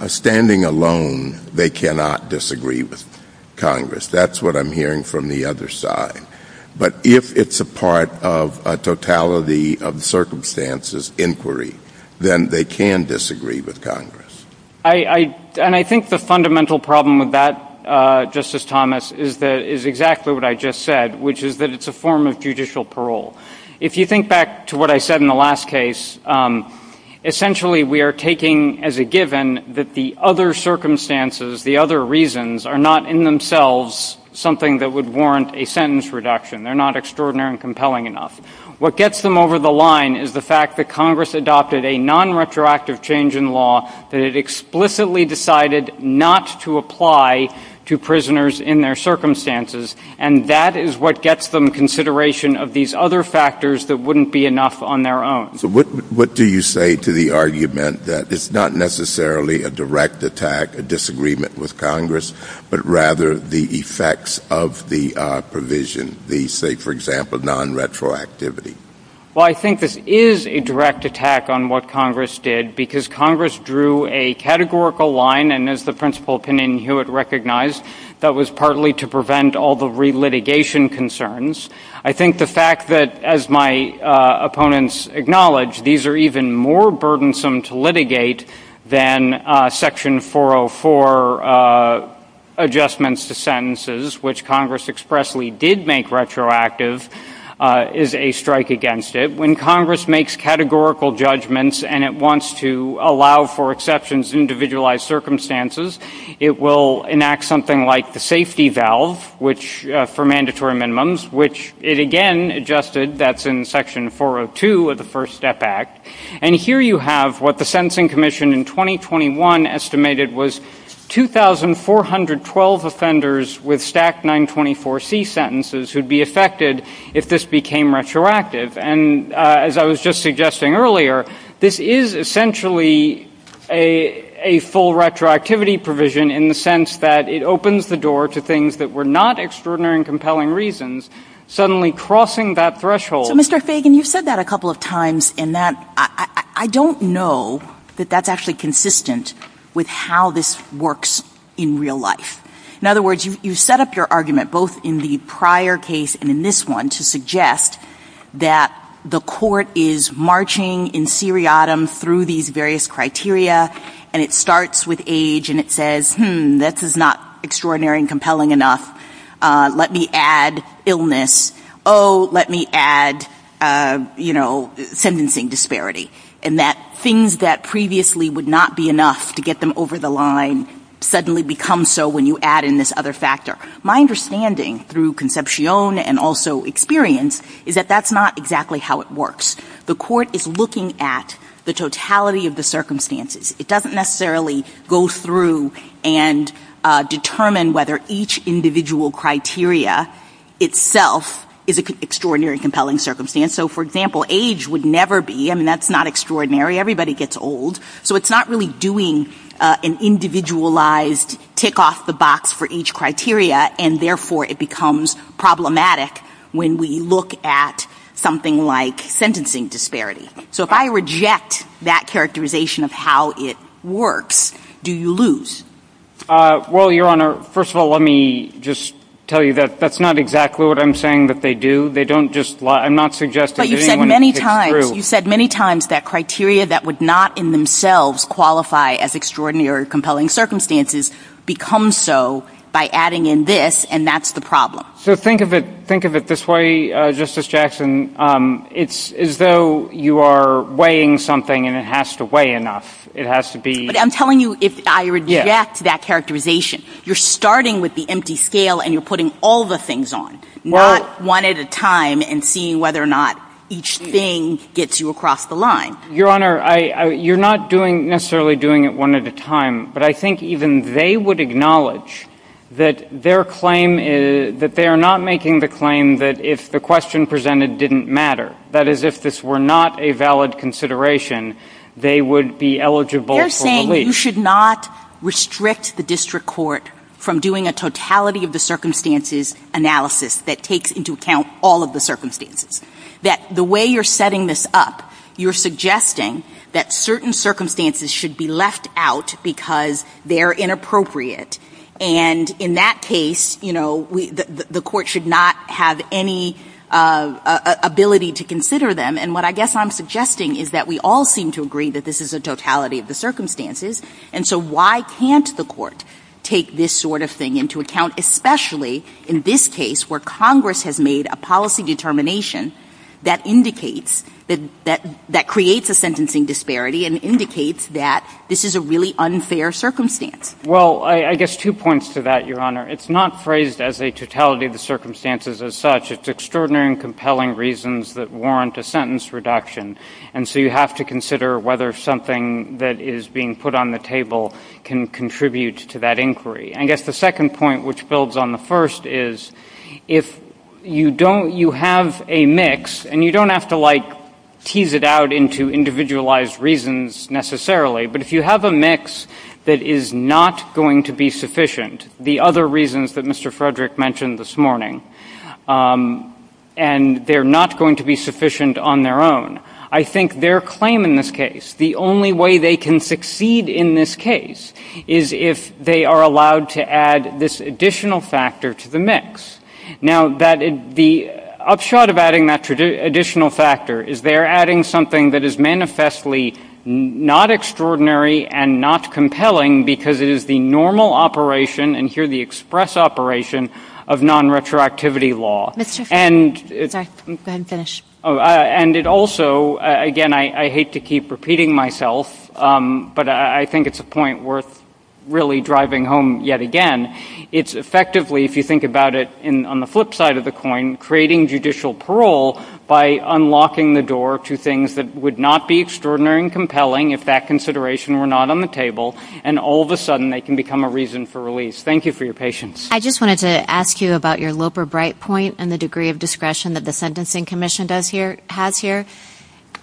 standing alone they cannot disagree with Congress. That's what I'm hearing from the other side. But if it's a part of a totality of circumstances inquiry, then they can disagree with Congress. And I think the fundamental problem with that, Justice Thomas, is exactly what I just said, which is that it's a form of judicial parole. If you think back to what I said in the last case, essentially we are taking as a given that the other circumstances, the other reasons, are not in themselves something that would warrant a sentence reduction. They're not extraordinary and compelling enough. What gets them over the line is the fact that Congress adopted a nonretroactive change in law that it explicitly decided not to apply to prisoners in their circumstances, and that is what gets them consideration of these other factors that wouldn't be enough on their own. So what do you say to the argument that it's not necessarily a direct attack, a disagreement with Congress, but rather the effects of the provision, the, say, for example, nonretroactivity? Well, I think this is a direct attack on what Congress did because Congress drew a categorical line, and as the Principal Pennin-Hewitt recognized, that was partly to prevent all the re-litigation concerns. I think the fact that, as my opponents acknowledge, these are even more burdensome to litigate than Section 404 adjustments to sentences, which Congress expressly did make retroactive, is a strike against it. When Congress makes categorical judgments and it wants to allow for exceptions in individualized circumstances, it will enact something like the safety valve for mandatory minimums, which it again adjusted. That's in Section 402 of the First Step Act. And here you have what the Sentencing Commission in 2021 estimated was 2,412 offenders with stacked 924C sentences who'd be affected if this became retroactive. And as I was just suggesting earlier, this is essentially a full retroactivity provision in the sense that it opens the door to things that were not extraordinary and compelling reasons, suddenly crossing that threshold. Mr. Fagan, you've said that a couple of times, and I don't know that that's actually consistent with how this works in real life. In other words, you set up your argument both in the prior case and in this one to suggest that the court is marching in seriatim through these various criteria, and it starts with age, and it says, hmm, this is not extraordinary and compelling enough. Let me add illness. Oh, let me add, you know, sentencing disparity. And that things that previously would not be enough to get them over the line suddenly become so when you add in this other factor. My understanding through conception and also experience is that that's not exactly how it works. The court is looking at the totality of the circumstances. It doesn't necessarily go through and determine whether each individual criteria itself is an extraordinary and compelling circumstance. So, for example, age would never be, I mean, that's not extraordinary. Everybody gets old. So it's not really doing an individualized tick off the box for each criteria, and therefore it becomes problematic when we look at something like sentencing disparity. So if I reject that characterization of how it works, do you lose? Well, Your Honor, first of all, let me just tell you that that's not exactly what I'm saying that they do. They don't just lie. I'm not suggesting anyone is true. You said many times that criteria that would not in themselves qualify as extraordinary or compelling circumstances become so by adding in this, and that's the problem. So think of it this way, Justice Jackson. It's as though you are weighing something, and it has to weigh enough. It has to be. But I'm telling you, if I reject that characterization, you're starting with the empty scale and you're putting all the things on, not one at a time and seeing whether or not each thing gets you across the line. Your Honor, you're not necessarily doing it one at a time, but I think even they would acknowledge that they are not making the claim that if the question presented didn't matter, that is, if this were not a valid consideration, they would be eligible for relief. I'm saying you should not restrict the district court from doing a totality of the circumstances analysis that takes into account all of the circumstances, that the way you're setting this up, you're suggesting that certain circumstances should be left out because they're inappropriate. And in that case, you know, the court should not have any ability to consider them. And what I guess I'm suggesting is that we all seem to agree that this is a totality of the circumstances, and so why can't the court take this sort of thing into account, especially in this case where Congress has made a policy determination that indicates, that creates a sentencing disparity and indicates that this is a really unfair circumstance? Well, I guess two points to that, Your Honor. It's not phrased as a totality of the circumstances as such. It's extraordinary and compelling reasons that warrant a sentence reduction. And so you have to consider whether something that is being put on the table can contribute to that inquiry. I guess the second point, which builds on the first, is if you don't, you have a mix, and you don't have to, like, tease it out into individualized reasons necessarily, but if you have a mix that is not going to be sufficient, the other reasons that Mr. Frederick mentioned this morning, and they're not going to be sufficient on their own, I think their claim in this case, the only way they can succeed in this case, is if they are allowed to add this additional factor to the mix. Now, the upshot of adding that additional factor is they're adding something that is manifestly not extraordinary and not compelling because it is the normal operation, and here the express operation, of nonretroactivity law. And it also, again, I hate to keep repeating myself, but I think it's a point worth really driving home yet again. It's effectively, if you think about it on the flip side of the coin, creating judicial parole by unlocking the door to things that would not be extraordinary and compelling if that consideration were not on the table, and all of a sudden they can become a reason for release. Thank you for your patience. I just wanted to ask you about your Loper-Bright point and the degree of discretion that the Sentencing Commission has here.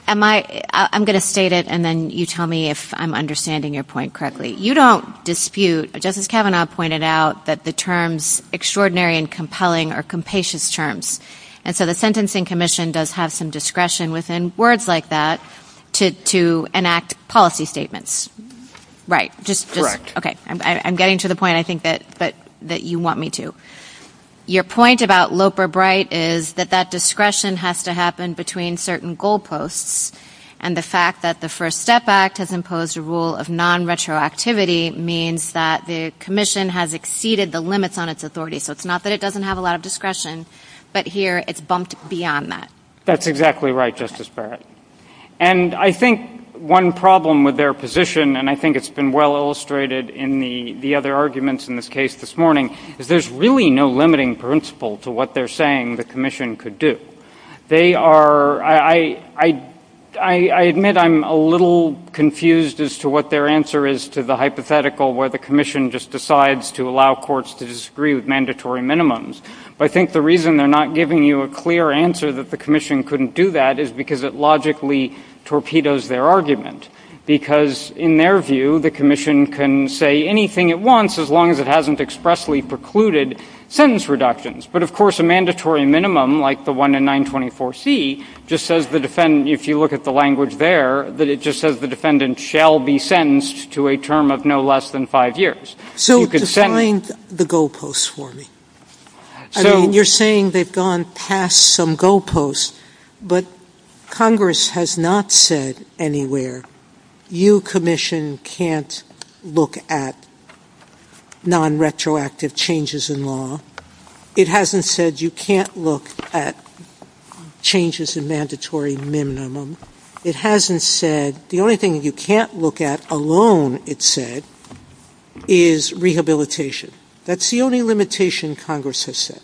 I'm going to state it, and then you tell me if I'm understanding your point correctly. You don't dispute, just as Kavanaugh pointed out, that the terms extraordinary and compelling are compassionate terms, and so the Sentencing Commission does have some discretion within words like that to enact policy statements. Right. Correct. Okay. I'm getting to the point, I think, that you want me to. Your point about Loper-Bright is that that discretion has to happen between certain goal posts, and the fact that the First Step Act has imposed a rule of nonretroactivity means that the commission has exceeded the limits on its authority. So it's not that it doesn't have a lot of discretion, but here it's bumped beyond that. That's exactly right, Justice Barrett. And I think one problem with their position, and I think it's been well illustrated in the other arguments in this case this morning, is there's really no limiting principle to what they're saying the commission could do. I admit I'm a little confused as to what their answer is to the hypothetical where the commission just decides to allow courts to disagree with mandatory minimums, but I think the reason they're not giving you a clear answer that the commission couldn't do that is because it logically torpedoes their argument, because, in their view, the commission can say anything it wants as long as it hasn't expressly precluded sentence reductions. But, of course, a mandatory minimum, like the one in 924C, just says the defendant, if you look at the language there, that it just says the defendant shall be sentenced to a term of no less than five years. So define the goalposts for me. I mean, you're saying they've gone past some goalposts, but Congress has not said anywhere, you commission can't look at nonretroactive changes in law. It hasn't said you can't look at changes in mandatory minimum. It hasn't said the only thing you can't look at alone, it said, is rehabilitation. That's the only limitation Congress has said.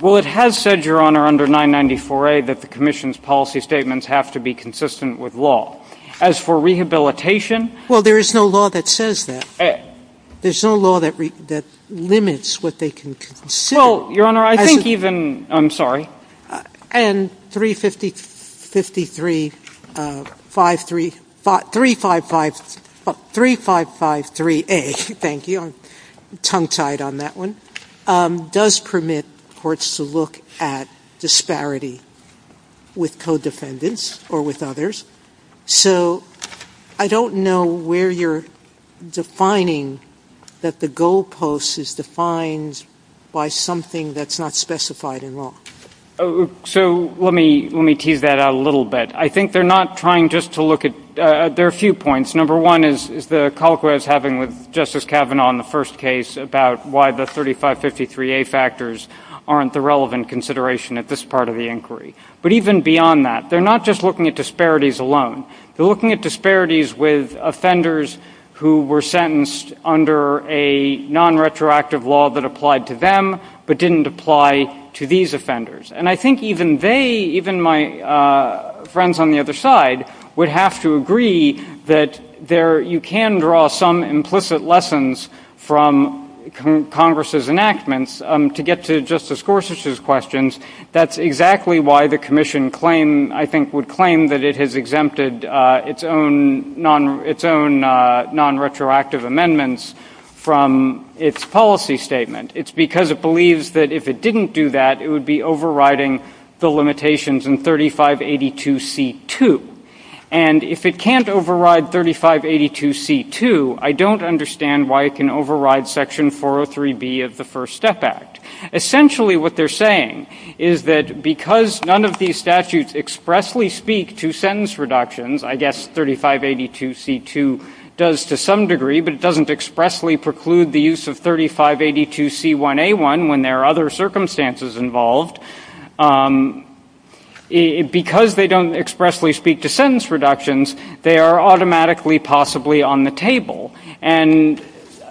Well, it has said, Your Honor, under 994A, that the commission's policy statements have to be consistent with law. As for rehabilitation... Well, there is no law that says that. There's no law that limits what they can consider. Well, Your Honor, I think even... I'm sorry. And 3553A, thank you, tongue-tied on that one, does permit courts to look at disparity with co-defendants or with others. So I don't know where you're defining that the goalposts is defined by something that's not specified in law. So let me tee that out a little bit. I think they're not trying just to look at... There are a few points. Number one is the call I was having with Justice Kavanaugh in the first case about why the 3553A factors aren't the relevant consideration at this part of the inquiry. But even beyond that, they're not just looking at disparities alone. They're looking at disparities with offenders who were sentenced under a non-retroactive law that applied to them but didn't apply to these offenders. And I think even they, even my friends on the other side, would have to agree that you can draw some implicit lessons from Congress's enactments. To get to Justice Gorsuch's questions, that's exactly why the commission, I think, would claim that it has exempted its own non-retroactive amendments from its policy statement. It's because it believes that if it didn't do that, it would be overriding the limitations in 3582C2. And if it can't override 3582C2, I don't understand why it can override Section 403B of the First Step Act. Essentially what they're saying is that because none of these statutes expressly speak to sentence reductions, I guess 3582C2 does to some degree, but it doesn't expressly preclude the use of 3582C1A1 when there are other circumstances involved, because they don't expressly speak to sentence reductions, they are automatically possibly on the table. And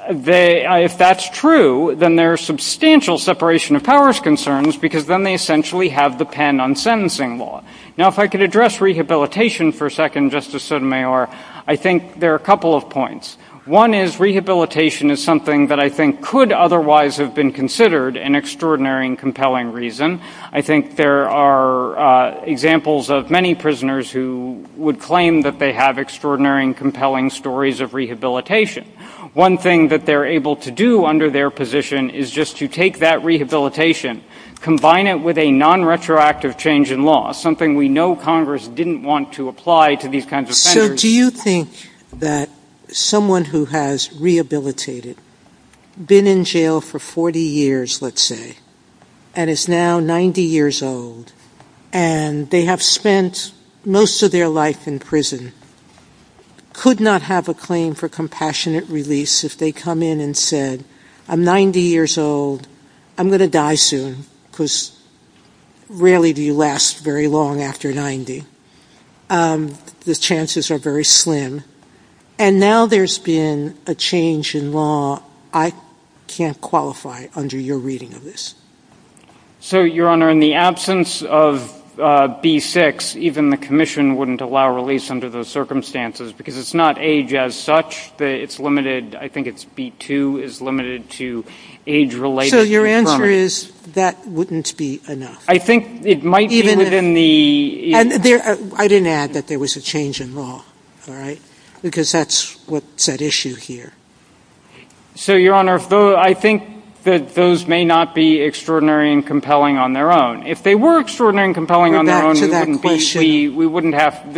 if that's true, then there's substantial separation of powers concerns because then they essentially have the pen on sentencing law. Now if I could address rehabilitation for a second, Justice Sotomayor, I think there are a couple of points. One is rehabilitation is something that I think could otherwise have been considered an extraordinary and compelling reason. I think there are examples of many prisoners who would claim that they have extraordinary and compelling stories of rehabilitation. One thing that they're able to do under their position is just to take that rehabilitation, combine it with a non-retroactive change in law, something we know Congress didn't want to apply to these kinds of sentences. Do you think that someone who has rehabilitated, been in jail for 40 years, let's say, and is now 90 years old, and they have spent most of their life in prison, could not have a claim for compassionate release if they come in and said, I'm 90 years old, I'm going to die soon, because rarely do you last very long after 90. The chances are very slim. And now there's been a change in law, I can't qualify under your reading of this. So, Your Honor, in the absence of B-6, even the Commission wouldn't allow release under those circumstances, because it's not age as such, it's limited, I think it's B-2 is limited to age-related. So your answer is that wouldn't be enough? I think it might be within the... I didn't add that there was a change in law, all right? Because that's what's at issue here. So, Your Honor, I think that those may not be extraordinary and compelling on their own. If they were extraordinary and compelling on their own, this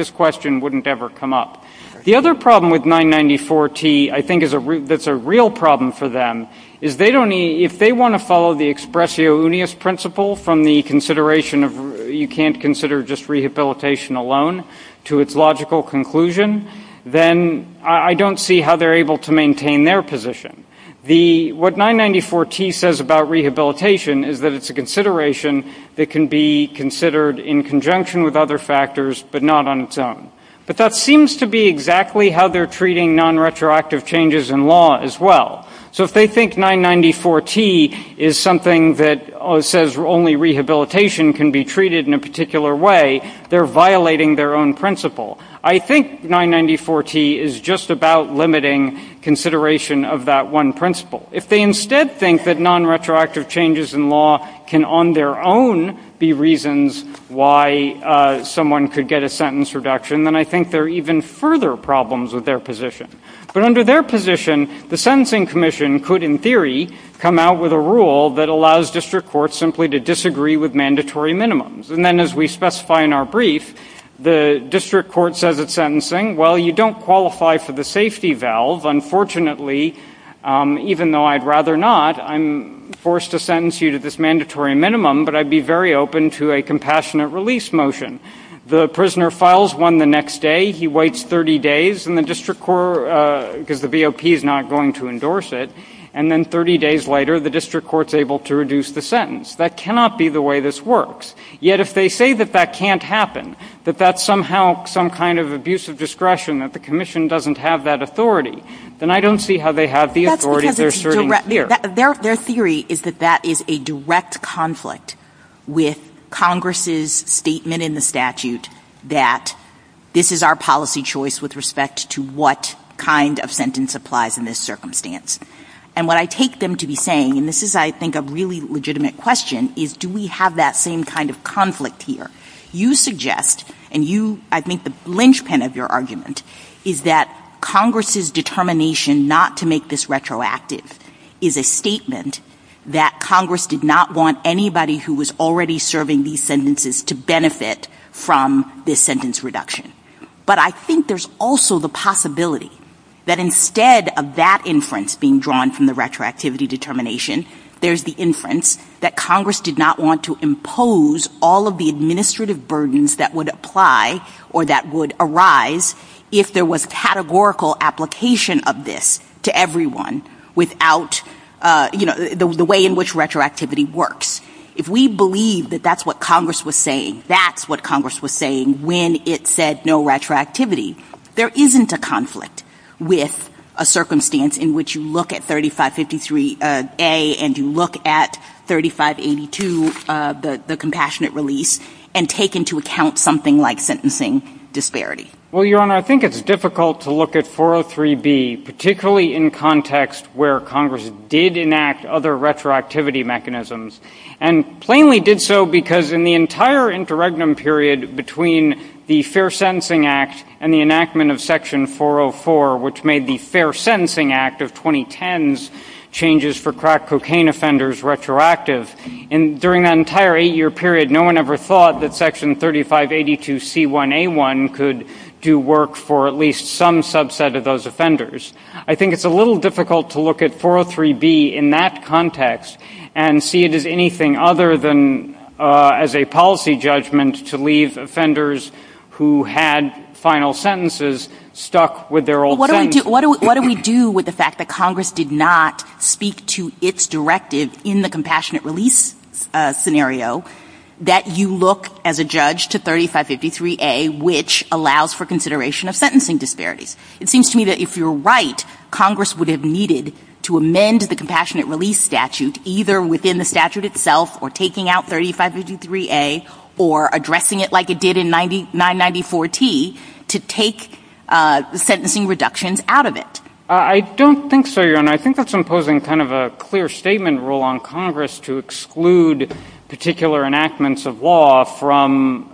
question wouldn't ever come up. The other problem with 994-T, I think, that's a real problem for them, is if they want to follow the expressio unius principle from the consideration of you can't consider just rehabilitation alone to its logical conclusion, then I don't see how they're able to maintain their position. What 994-T says about rehabilitation is that it's a consideration that can be considered in conjunction with other factors, but not on its own. But that seems to be exactly how they're treating non-retroactive changes in law as well. So if they think 994-T is something that says only rehabilitation can be treated in a particular way, they're violating their own principle. I think 994-T is just about limiting consideration of that one principle. If they instead think that non-retroactive changes in law can, on their own, be reasons why someone could get a sentence reduction, then I think there are even further problems with their position. But under their position, the Sentencing Commission could, in theory, come out with a rule that allows district courts simply to disagree with mandatory minimums. And then as we specify in our brief, the district court says at sentencing, well, you don't qualify for the safety valve. Unfortunately, even though I'd rather not, I'm forced to sentence you to this mandatory minimum, but I'd be very open to a compassionate release motion. The prisoner files one the next day. He waits 30 days, and the district court, because the BOP is not going to endorse it. And then 30 days later, the district court is able to reduce the sentence. That cannot be the way this works. Yet if they say that that can't happen, that that's somehow some kind of abusive discretion, that the commission doesn't have that authority, then I don't see how they have the authority. Their theory is that that is a direct conflict with Congress's statement in the statute that this is our policy choice with respect to what kind of sentence applies in this circumstance. And what I take them to be saying, and this is, I think, a really legitimate question, is do we have that same kind of conflict here? You suggest, and you, I think the linchpin of your argument, is that Congress's determination not to make this retroactive is a statement that Congress did not want anybody who was already serving these sentences to benefit from this sentence reduction. But I think there's also the possibility that instead of that inference being drawn from the retroactivity determination, there's the inference that Congress did not want to impose all of the administrative burdens that would apply or that would arise if there was categorical application of this to everyone without, you know, the way in which retroactivity works. If we believe that that's what Congress was saying, that's what Congress was saying when it said no retroactivity, there isn't a conflict with a circumstance in which you look at 3553A and you look at 3582, the compassionate release, and take into account something like sentencing disparity. Well, Your Honor, I think it's difficult to look at 403B, particularly in context where Congress did enact other retroactivity mechanisms, and plainly did so because in the entire interregnum period between the Fair Sentencing Act and the enactment of Section 404, which made the Fair Sentencing Act of 2010's changes for crack cocaine offenders retroactive, and during that entire eight-year period, no one ever thought that Section 3582C1A1 could do work for at least some subset of those offenders. I think it's a little difficult to look at 403B in that context and see it as anything other than as a policy judgment to leave offenders who had final sentences stuck with their old friends. What do we do with the fact that Congress did not speak to its directive in the compassionate release scenario that you look, as a judge, to 3553A, which allows for consideration of sentencing disparities? It seems to me that if you're right, Congress would have needed to amend the compassionate release statute, either within the statute itself or taking out 3553A or addressing it like it did in 994T, to take the sentencing reductions out of it. I don't think so, Your Honor. I think that's imposing kind of a clear statement rule on Congress to exclude particular enactments of law from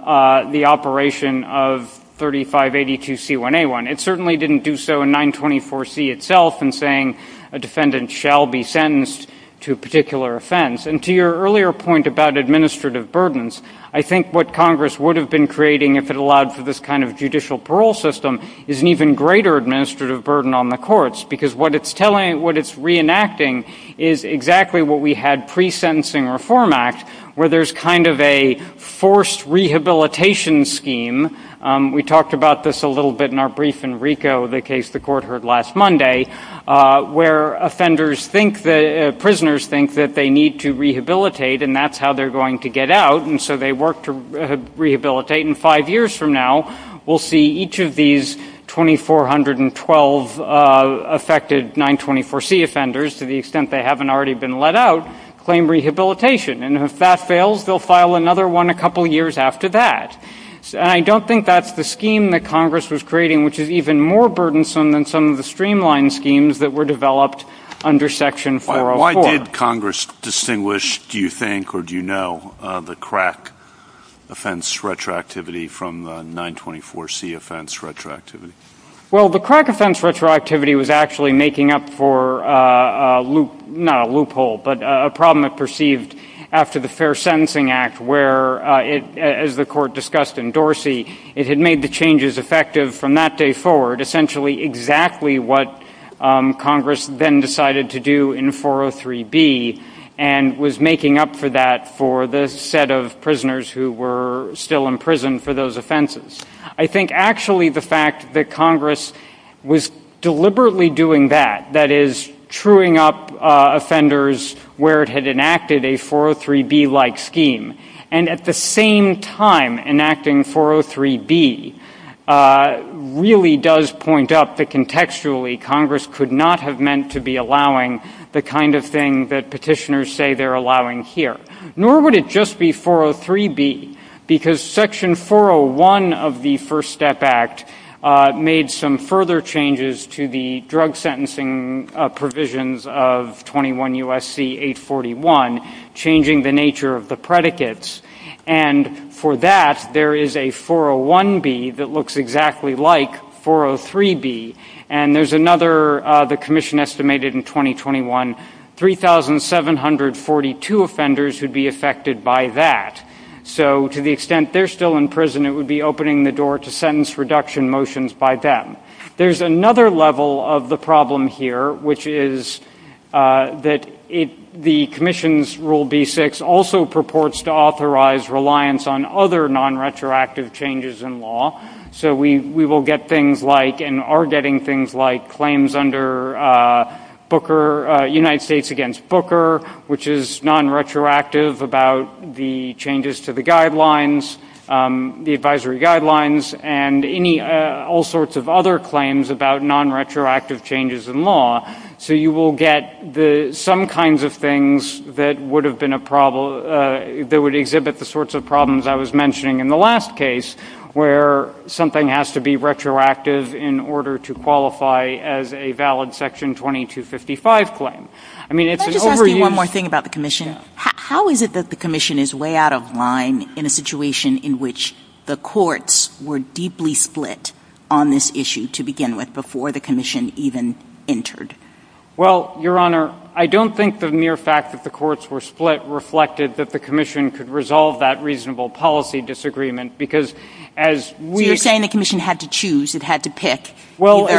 the operation of 3582C1A1. It certainly didn't do so in 924C itself in saying a defendant shall be sentenced to a particular offense. And to your earlier point about administrative burdens, I think what Congress would have been creating if it allowed for this kind of judicial parole system is an even greater administrative burden on the courts, because what it's reenacting is exactly what we had pre-sentencing reform act, where there's kind of a forced rehabilitation scheme. We talked about this a little bit in our brief in RICO, the case the court heard last Monday, where prisoners think that they need to rehabilitate and that's how they're going to get out. And so they work to rehabilitate. And five years from now, we'll see each of these 2412 affected 924C offenders, to the extent they haven't already been let out, claim rehabilitation. And if that fails, they'll file another one a couple years after that. And I don't think that's the scheme that Congress was creating, which is even more burdensome than some of the streamlined schemes that were developed under Section 404. Why did Congress distinguish, do you think or do you know, the crack offense retroactivity from the 924C offense retroactivity? Well, the crack offense retroactivity was actually making up for a loophole, but a problem that perceived after the Fair Sentencing Act where, as the court discussed in Dorsey, it had made the changes effective from that day forward, essentially exactly what Congress then decided to do in 403B and was making up for that for the set of prisoners who were still in prison for those offenses. I think actually the fact that Congress was deliberately doing that, that is truing up offenders where it had enacted a 403B-like scheme, and at the same time enacting 403B really does point up that contextually Congress could not have meant to be allowing the kind of thing that petitioners say they're allowing here. Nor would it just be 403B because Section 401 of the First Step Act made some further changes to the drug sentencing provisions of 21 U.S.C. 841, changing the nature of the predicates, and for that, there is a 401B that looks exactly like 403B, and there's another, the commission estimated in 2021, 3,742 offenders would be affected by that. So to the extent they're still in prison, it would be opening the door to sentence reduction motions by them. There's another level of the problem here, which is that the commission's Rule B-6 also purports to authorize reliance on other non-retroactive changes in law. So we will get things like and are getting things like claims under Booker, United States against Booker, which is non-retroactive about the changes to the guidelines, the advisory guidelines, and all sorts of other claims about non-retroactive changes in law. So you will get some kinds of things that would exhibit the sorts of problems I was mentioning in the last case, where something has to be retroactive in order to qualify as a valid Section 2255 claim. Can I just ask you one more thing about the commission? How is it that the commission is way out of line in a situation in which the courts were deeply split on this issue to begin with, before the commission even entered? Well, Your Honor, I don't think the mere fact that the courts were split reflected that the commission could resolve that reasonable policy disagreement, because as we... Well,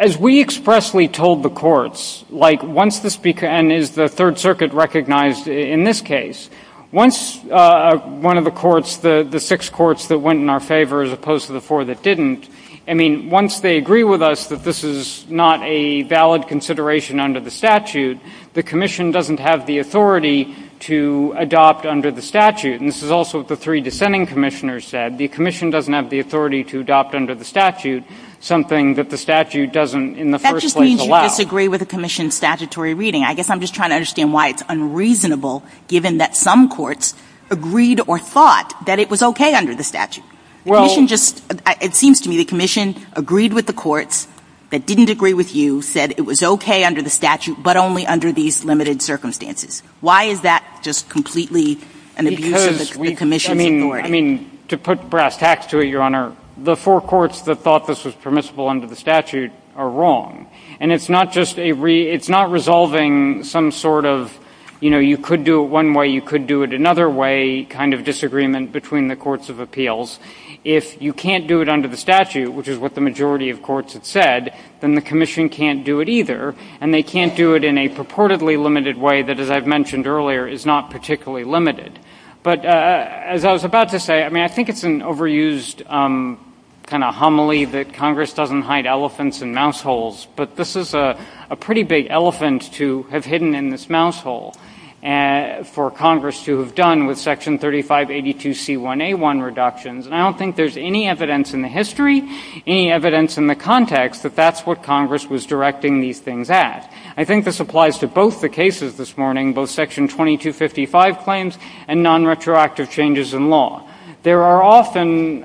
as we expressly told the courts, like once this becomes, and is the Third Circuit recognized in this case, once one of the courts, the six courts that went in our favor as opposed to the four that didn't, I mean, once they agree with us that this is not a valid consideration under the statute, the commission doesn't have the authority to adopt under the statute. And this is also what the three dissenting commissioners said. They said the commission doesn't have the authority to adopt under the statute, something that the statute doesn't in the first place allow. That just means you disagree with the commission's statutory reading. I guess I'm just trying to understand why it's unreasonable, given that some courts agreed or thought that it was okay under the statute. Well... The commission just, it seems to me the commission agreed with the courts that didn't agree with you, said it was okay under the statute, but only under these limited circumstances. Why is that just completely an abuse of the commission's authority? I mean, to put brass tacks to it, Your Honor, the four courts that thought this was permissible under the statute are wrong. And it's not just a re, it's not resolving some sort of, you know, you could do it one way, you could do it another way kind of disagreement between the courts of appeals. If you can't do it under the statute, which is what the majority of courts have said, then the commission can't do it either, and they can't do it in a purportedly limited way that, as I've mentioned earlier, is not particularly limited. But as I was about to say, I mean, I think it's an overused kind of homily that Congress doesn't hide elephants in mouse holes, but this is a pretty big elephant to have hidden in this mouse hole for Congress to have done with Section 3582C1A1 reductions. And I don't think there's any evidence in the history, any evidence in the context, that that's what Congress was directing these things at. I think this applies to both the cases this morning, both Section 2255 claims and nonretroactive changes in law. There are often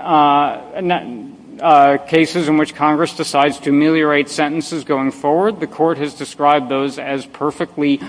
cases in which Congress decides to ameliorate sentences going forward. The court has described those as perfectly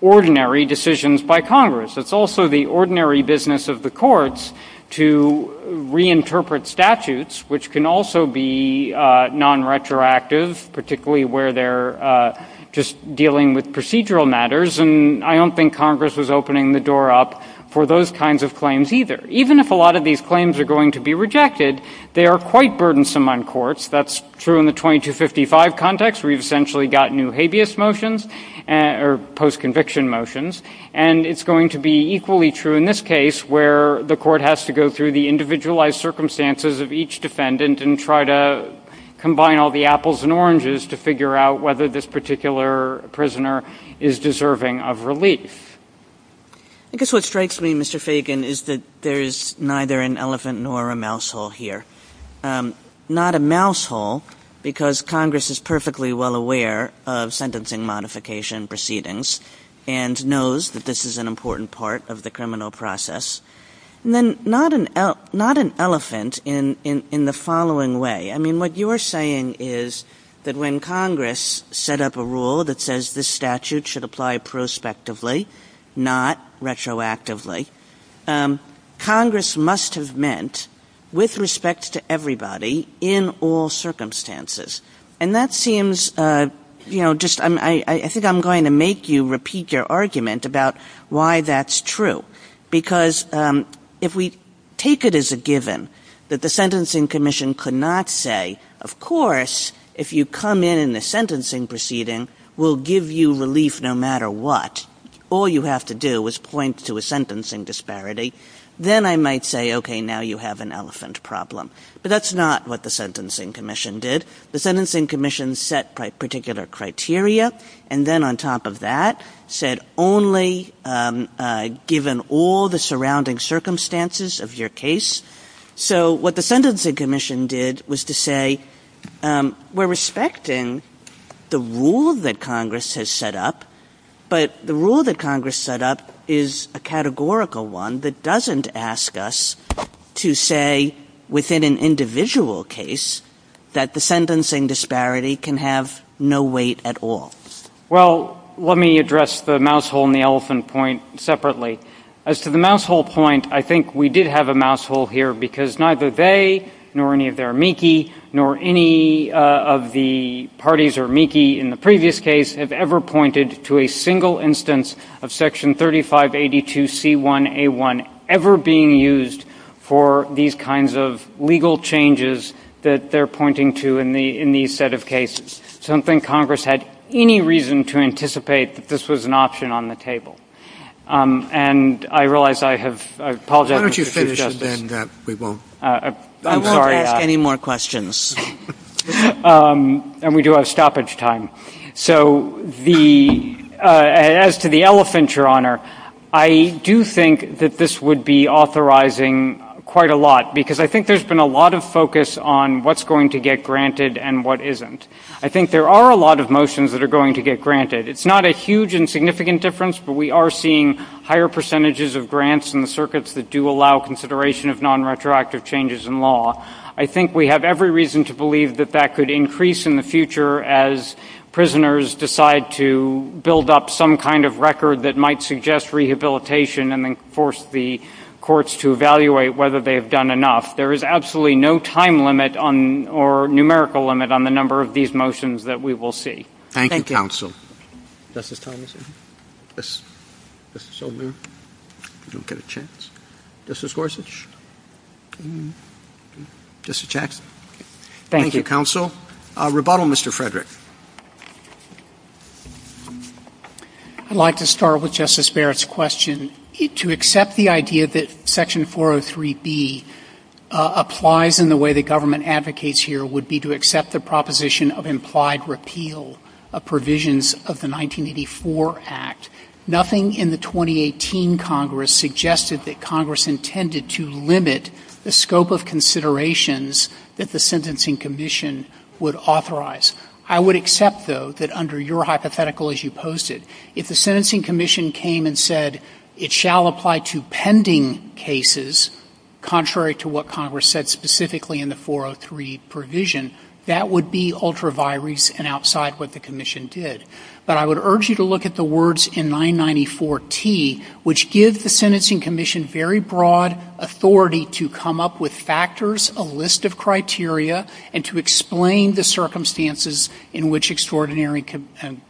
ordinary decisions by Congress. It's also the ordinary business of the courts to reinterpret statutes, which can also be nonretroactive, particularly where they're just dealing with procedural matters. And I don't think Congress was opening the door up for those kinds of claims either. Even if a lot of these claims are going to be rejected, they are quite burdensome on courts. That's true in the 2255 context, where you've essentially got new habeas motions or post-conviction motions. And it's going to be equally true in this case, where the court has to go through the individualized circumstances of each defendant and try to combine all the apples and oranges to figure out whether this particular prisoner is deserving of relief. I guess what strikes me, Mr. Fagan, is that there's neither an elephant nor a mouse hole here. Not a mouse hole, because Congress is perfectly well aware of sentencing modification proceedings and knows that this is an important part of the criminal process. Not an elephant in the following way. What you're saying is that when Congress set up a rule that says this statute should apply prospectively, not retroactively, Congress must have meant, with respect to everybody, in all circumstances. I think I'm going to make you repeat your argument about why that's true. Because if we take it as a given that the Sentencing Commission could not say, of course, if you come in and the sentencing proceeding will give you relief no matter what, all you have to do is point to a sentencing disparity, then I might say, okay, now you have an elephant problem. But that's not what the Sentencing Commission did. The Sentencing Commission set particular criteria, and then on top of that said only given all the surrounding circumstances of your case. So what the Sentencing Commission did was to say, we're respecting the rule that Congress has set up, but the rule that Congress set up is a categorical one that doesn't ask us to say, within an individual case, that the sentencing disparity can have no weight at all. Well, let me address the mousehole and the elephant point separately. As to the mousehole point, I think we did have a mousehole here because neither they, nor any of their amici, nor any of the parties or amici in the previous case have ever pointed to a single instance of Section 3582C1A1 ever being used for these kinds of legal changes that they're pointing to in these set of cases. So I don't think Congress had any reason to anticipate that this was an option on the table. And I realize I have apologized to Chief Justice. Why don't you finish, and then we won't. I'm sorry. I won't ask any more questions. And we do have stoppage time. So as to the elephant, Your Honor, I do think that this would be authorizing quite a lot, because I think there's been a lot of focus on what's going to get granted and what isn't. I think there are a lot of motions that are going to get granted. It's not a huge and significant difference, but we are seeing higher percentages of grants in the circuits that do allow consideration of nonretroactive changes in law. I think we have every reason to believe that that could increase in the future as prisoners decide to build up some kind of record that might suggest rehabilitation and then force the courts to evaluate whether they have done enough. There is absolutely no time limit or numerical limit on the number of these motions that we will see. Thank you. Thank you, Counsel. Justice Thomas? Justice Sotomayor? I don't get a chance. Justice Gorsuch? Justice Jackson? Thank you. Thank you, Counsel. Rebuttal, Mr. Frederick. I'd like to start with Justice Barrett's question. To accept the idea that Section 403B applies in the way the government advocates here would be to accept the proposition of implied repeal of provisions of the 1984 Act. Nothing in the 2018 Congress suggested that Congress intended to limit the scope of considerations that the Sentencing Commission would authorize. I would accept, though, that under your hypothetical as you posted, if the Sentencing Commission came and said it shall apply to pending cases, contrary to what Congress said specifically in the 403 provision, that would be ultra-virus and outside what the Commission did. But I would urge you to look at the words in 994T, which gives the Sentencing Commission very broad authority to come up with factors, a list of criteria, and to explain the circumstances in which extraordinary and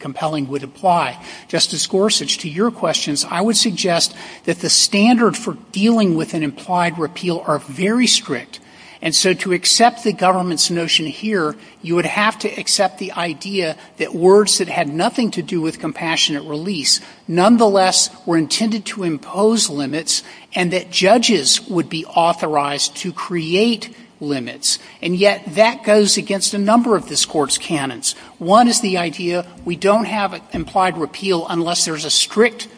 compelling would apply. Justice Gorsuch, to your questions, I would suggest that the standard for dealing with an implied repeal are very strict. And so to accept the government's notion here, you would have to accept the idea that words that had nothing to do with compassionate release, nonetheless, were intended to impose limits, and that judges would be authorized to create limits. And yet that goes against a number of this Court's canons. One is the idea we don't have an implied repeal unless there is a strict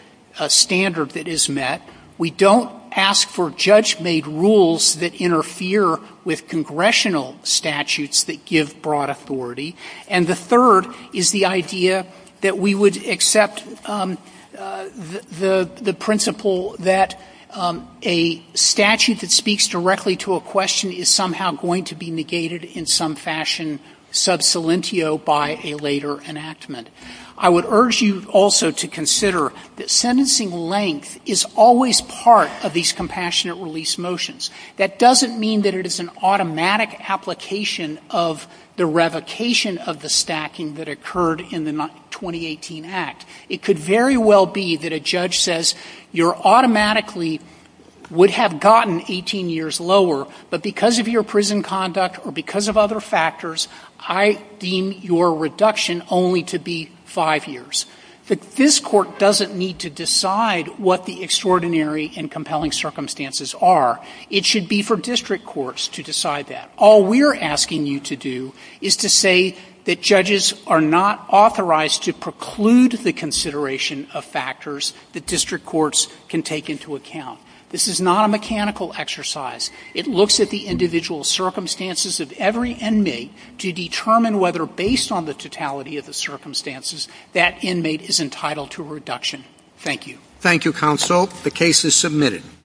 standard that is met. We don't ask for judge-made rules that interfere with congressional statutes that give broad authority. And the third is the idea that we would accept the principle that a statute that speaks directly to a question is somehow going to be negated in some fashion sub salientio by a later enactment. I would urge you also to consider that sentencing length is always part of these compassionate release motions. That doesn't mean that it is an automatic application of the revocation of the stacking that occurred in the 2018 Act. It could very well be that a judge says you automatically would have gotten 18 years lower, but because of your prison conduct or because of other factors, I deem your reduction only to be five years. This Court doesn't need to decide what the extraordinary and compelling circumstances are. It should be for district courts to decide that. All we're asking you to do is to say that judges are not authorized to preclude the consideration of factors that district courts can take into account. This is not a mechanical exercise. It looks at the individual circumstances of every inmate to determine whether, based on the totality of the circumstances, that inmate is entitled to a reduction. Thank you. Thank you, Counsel. The case is submitted.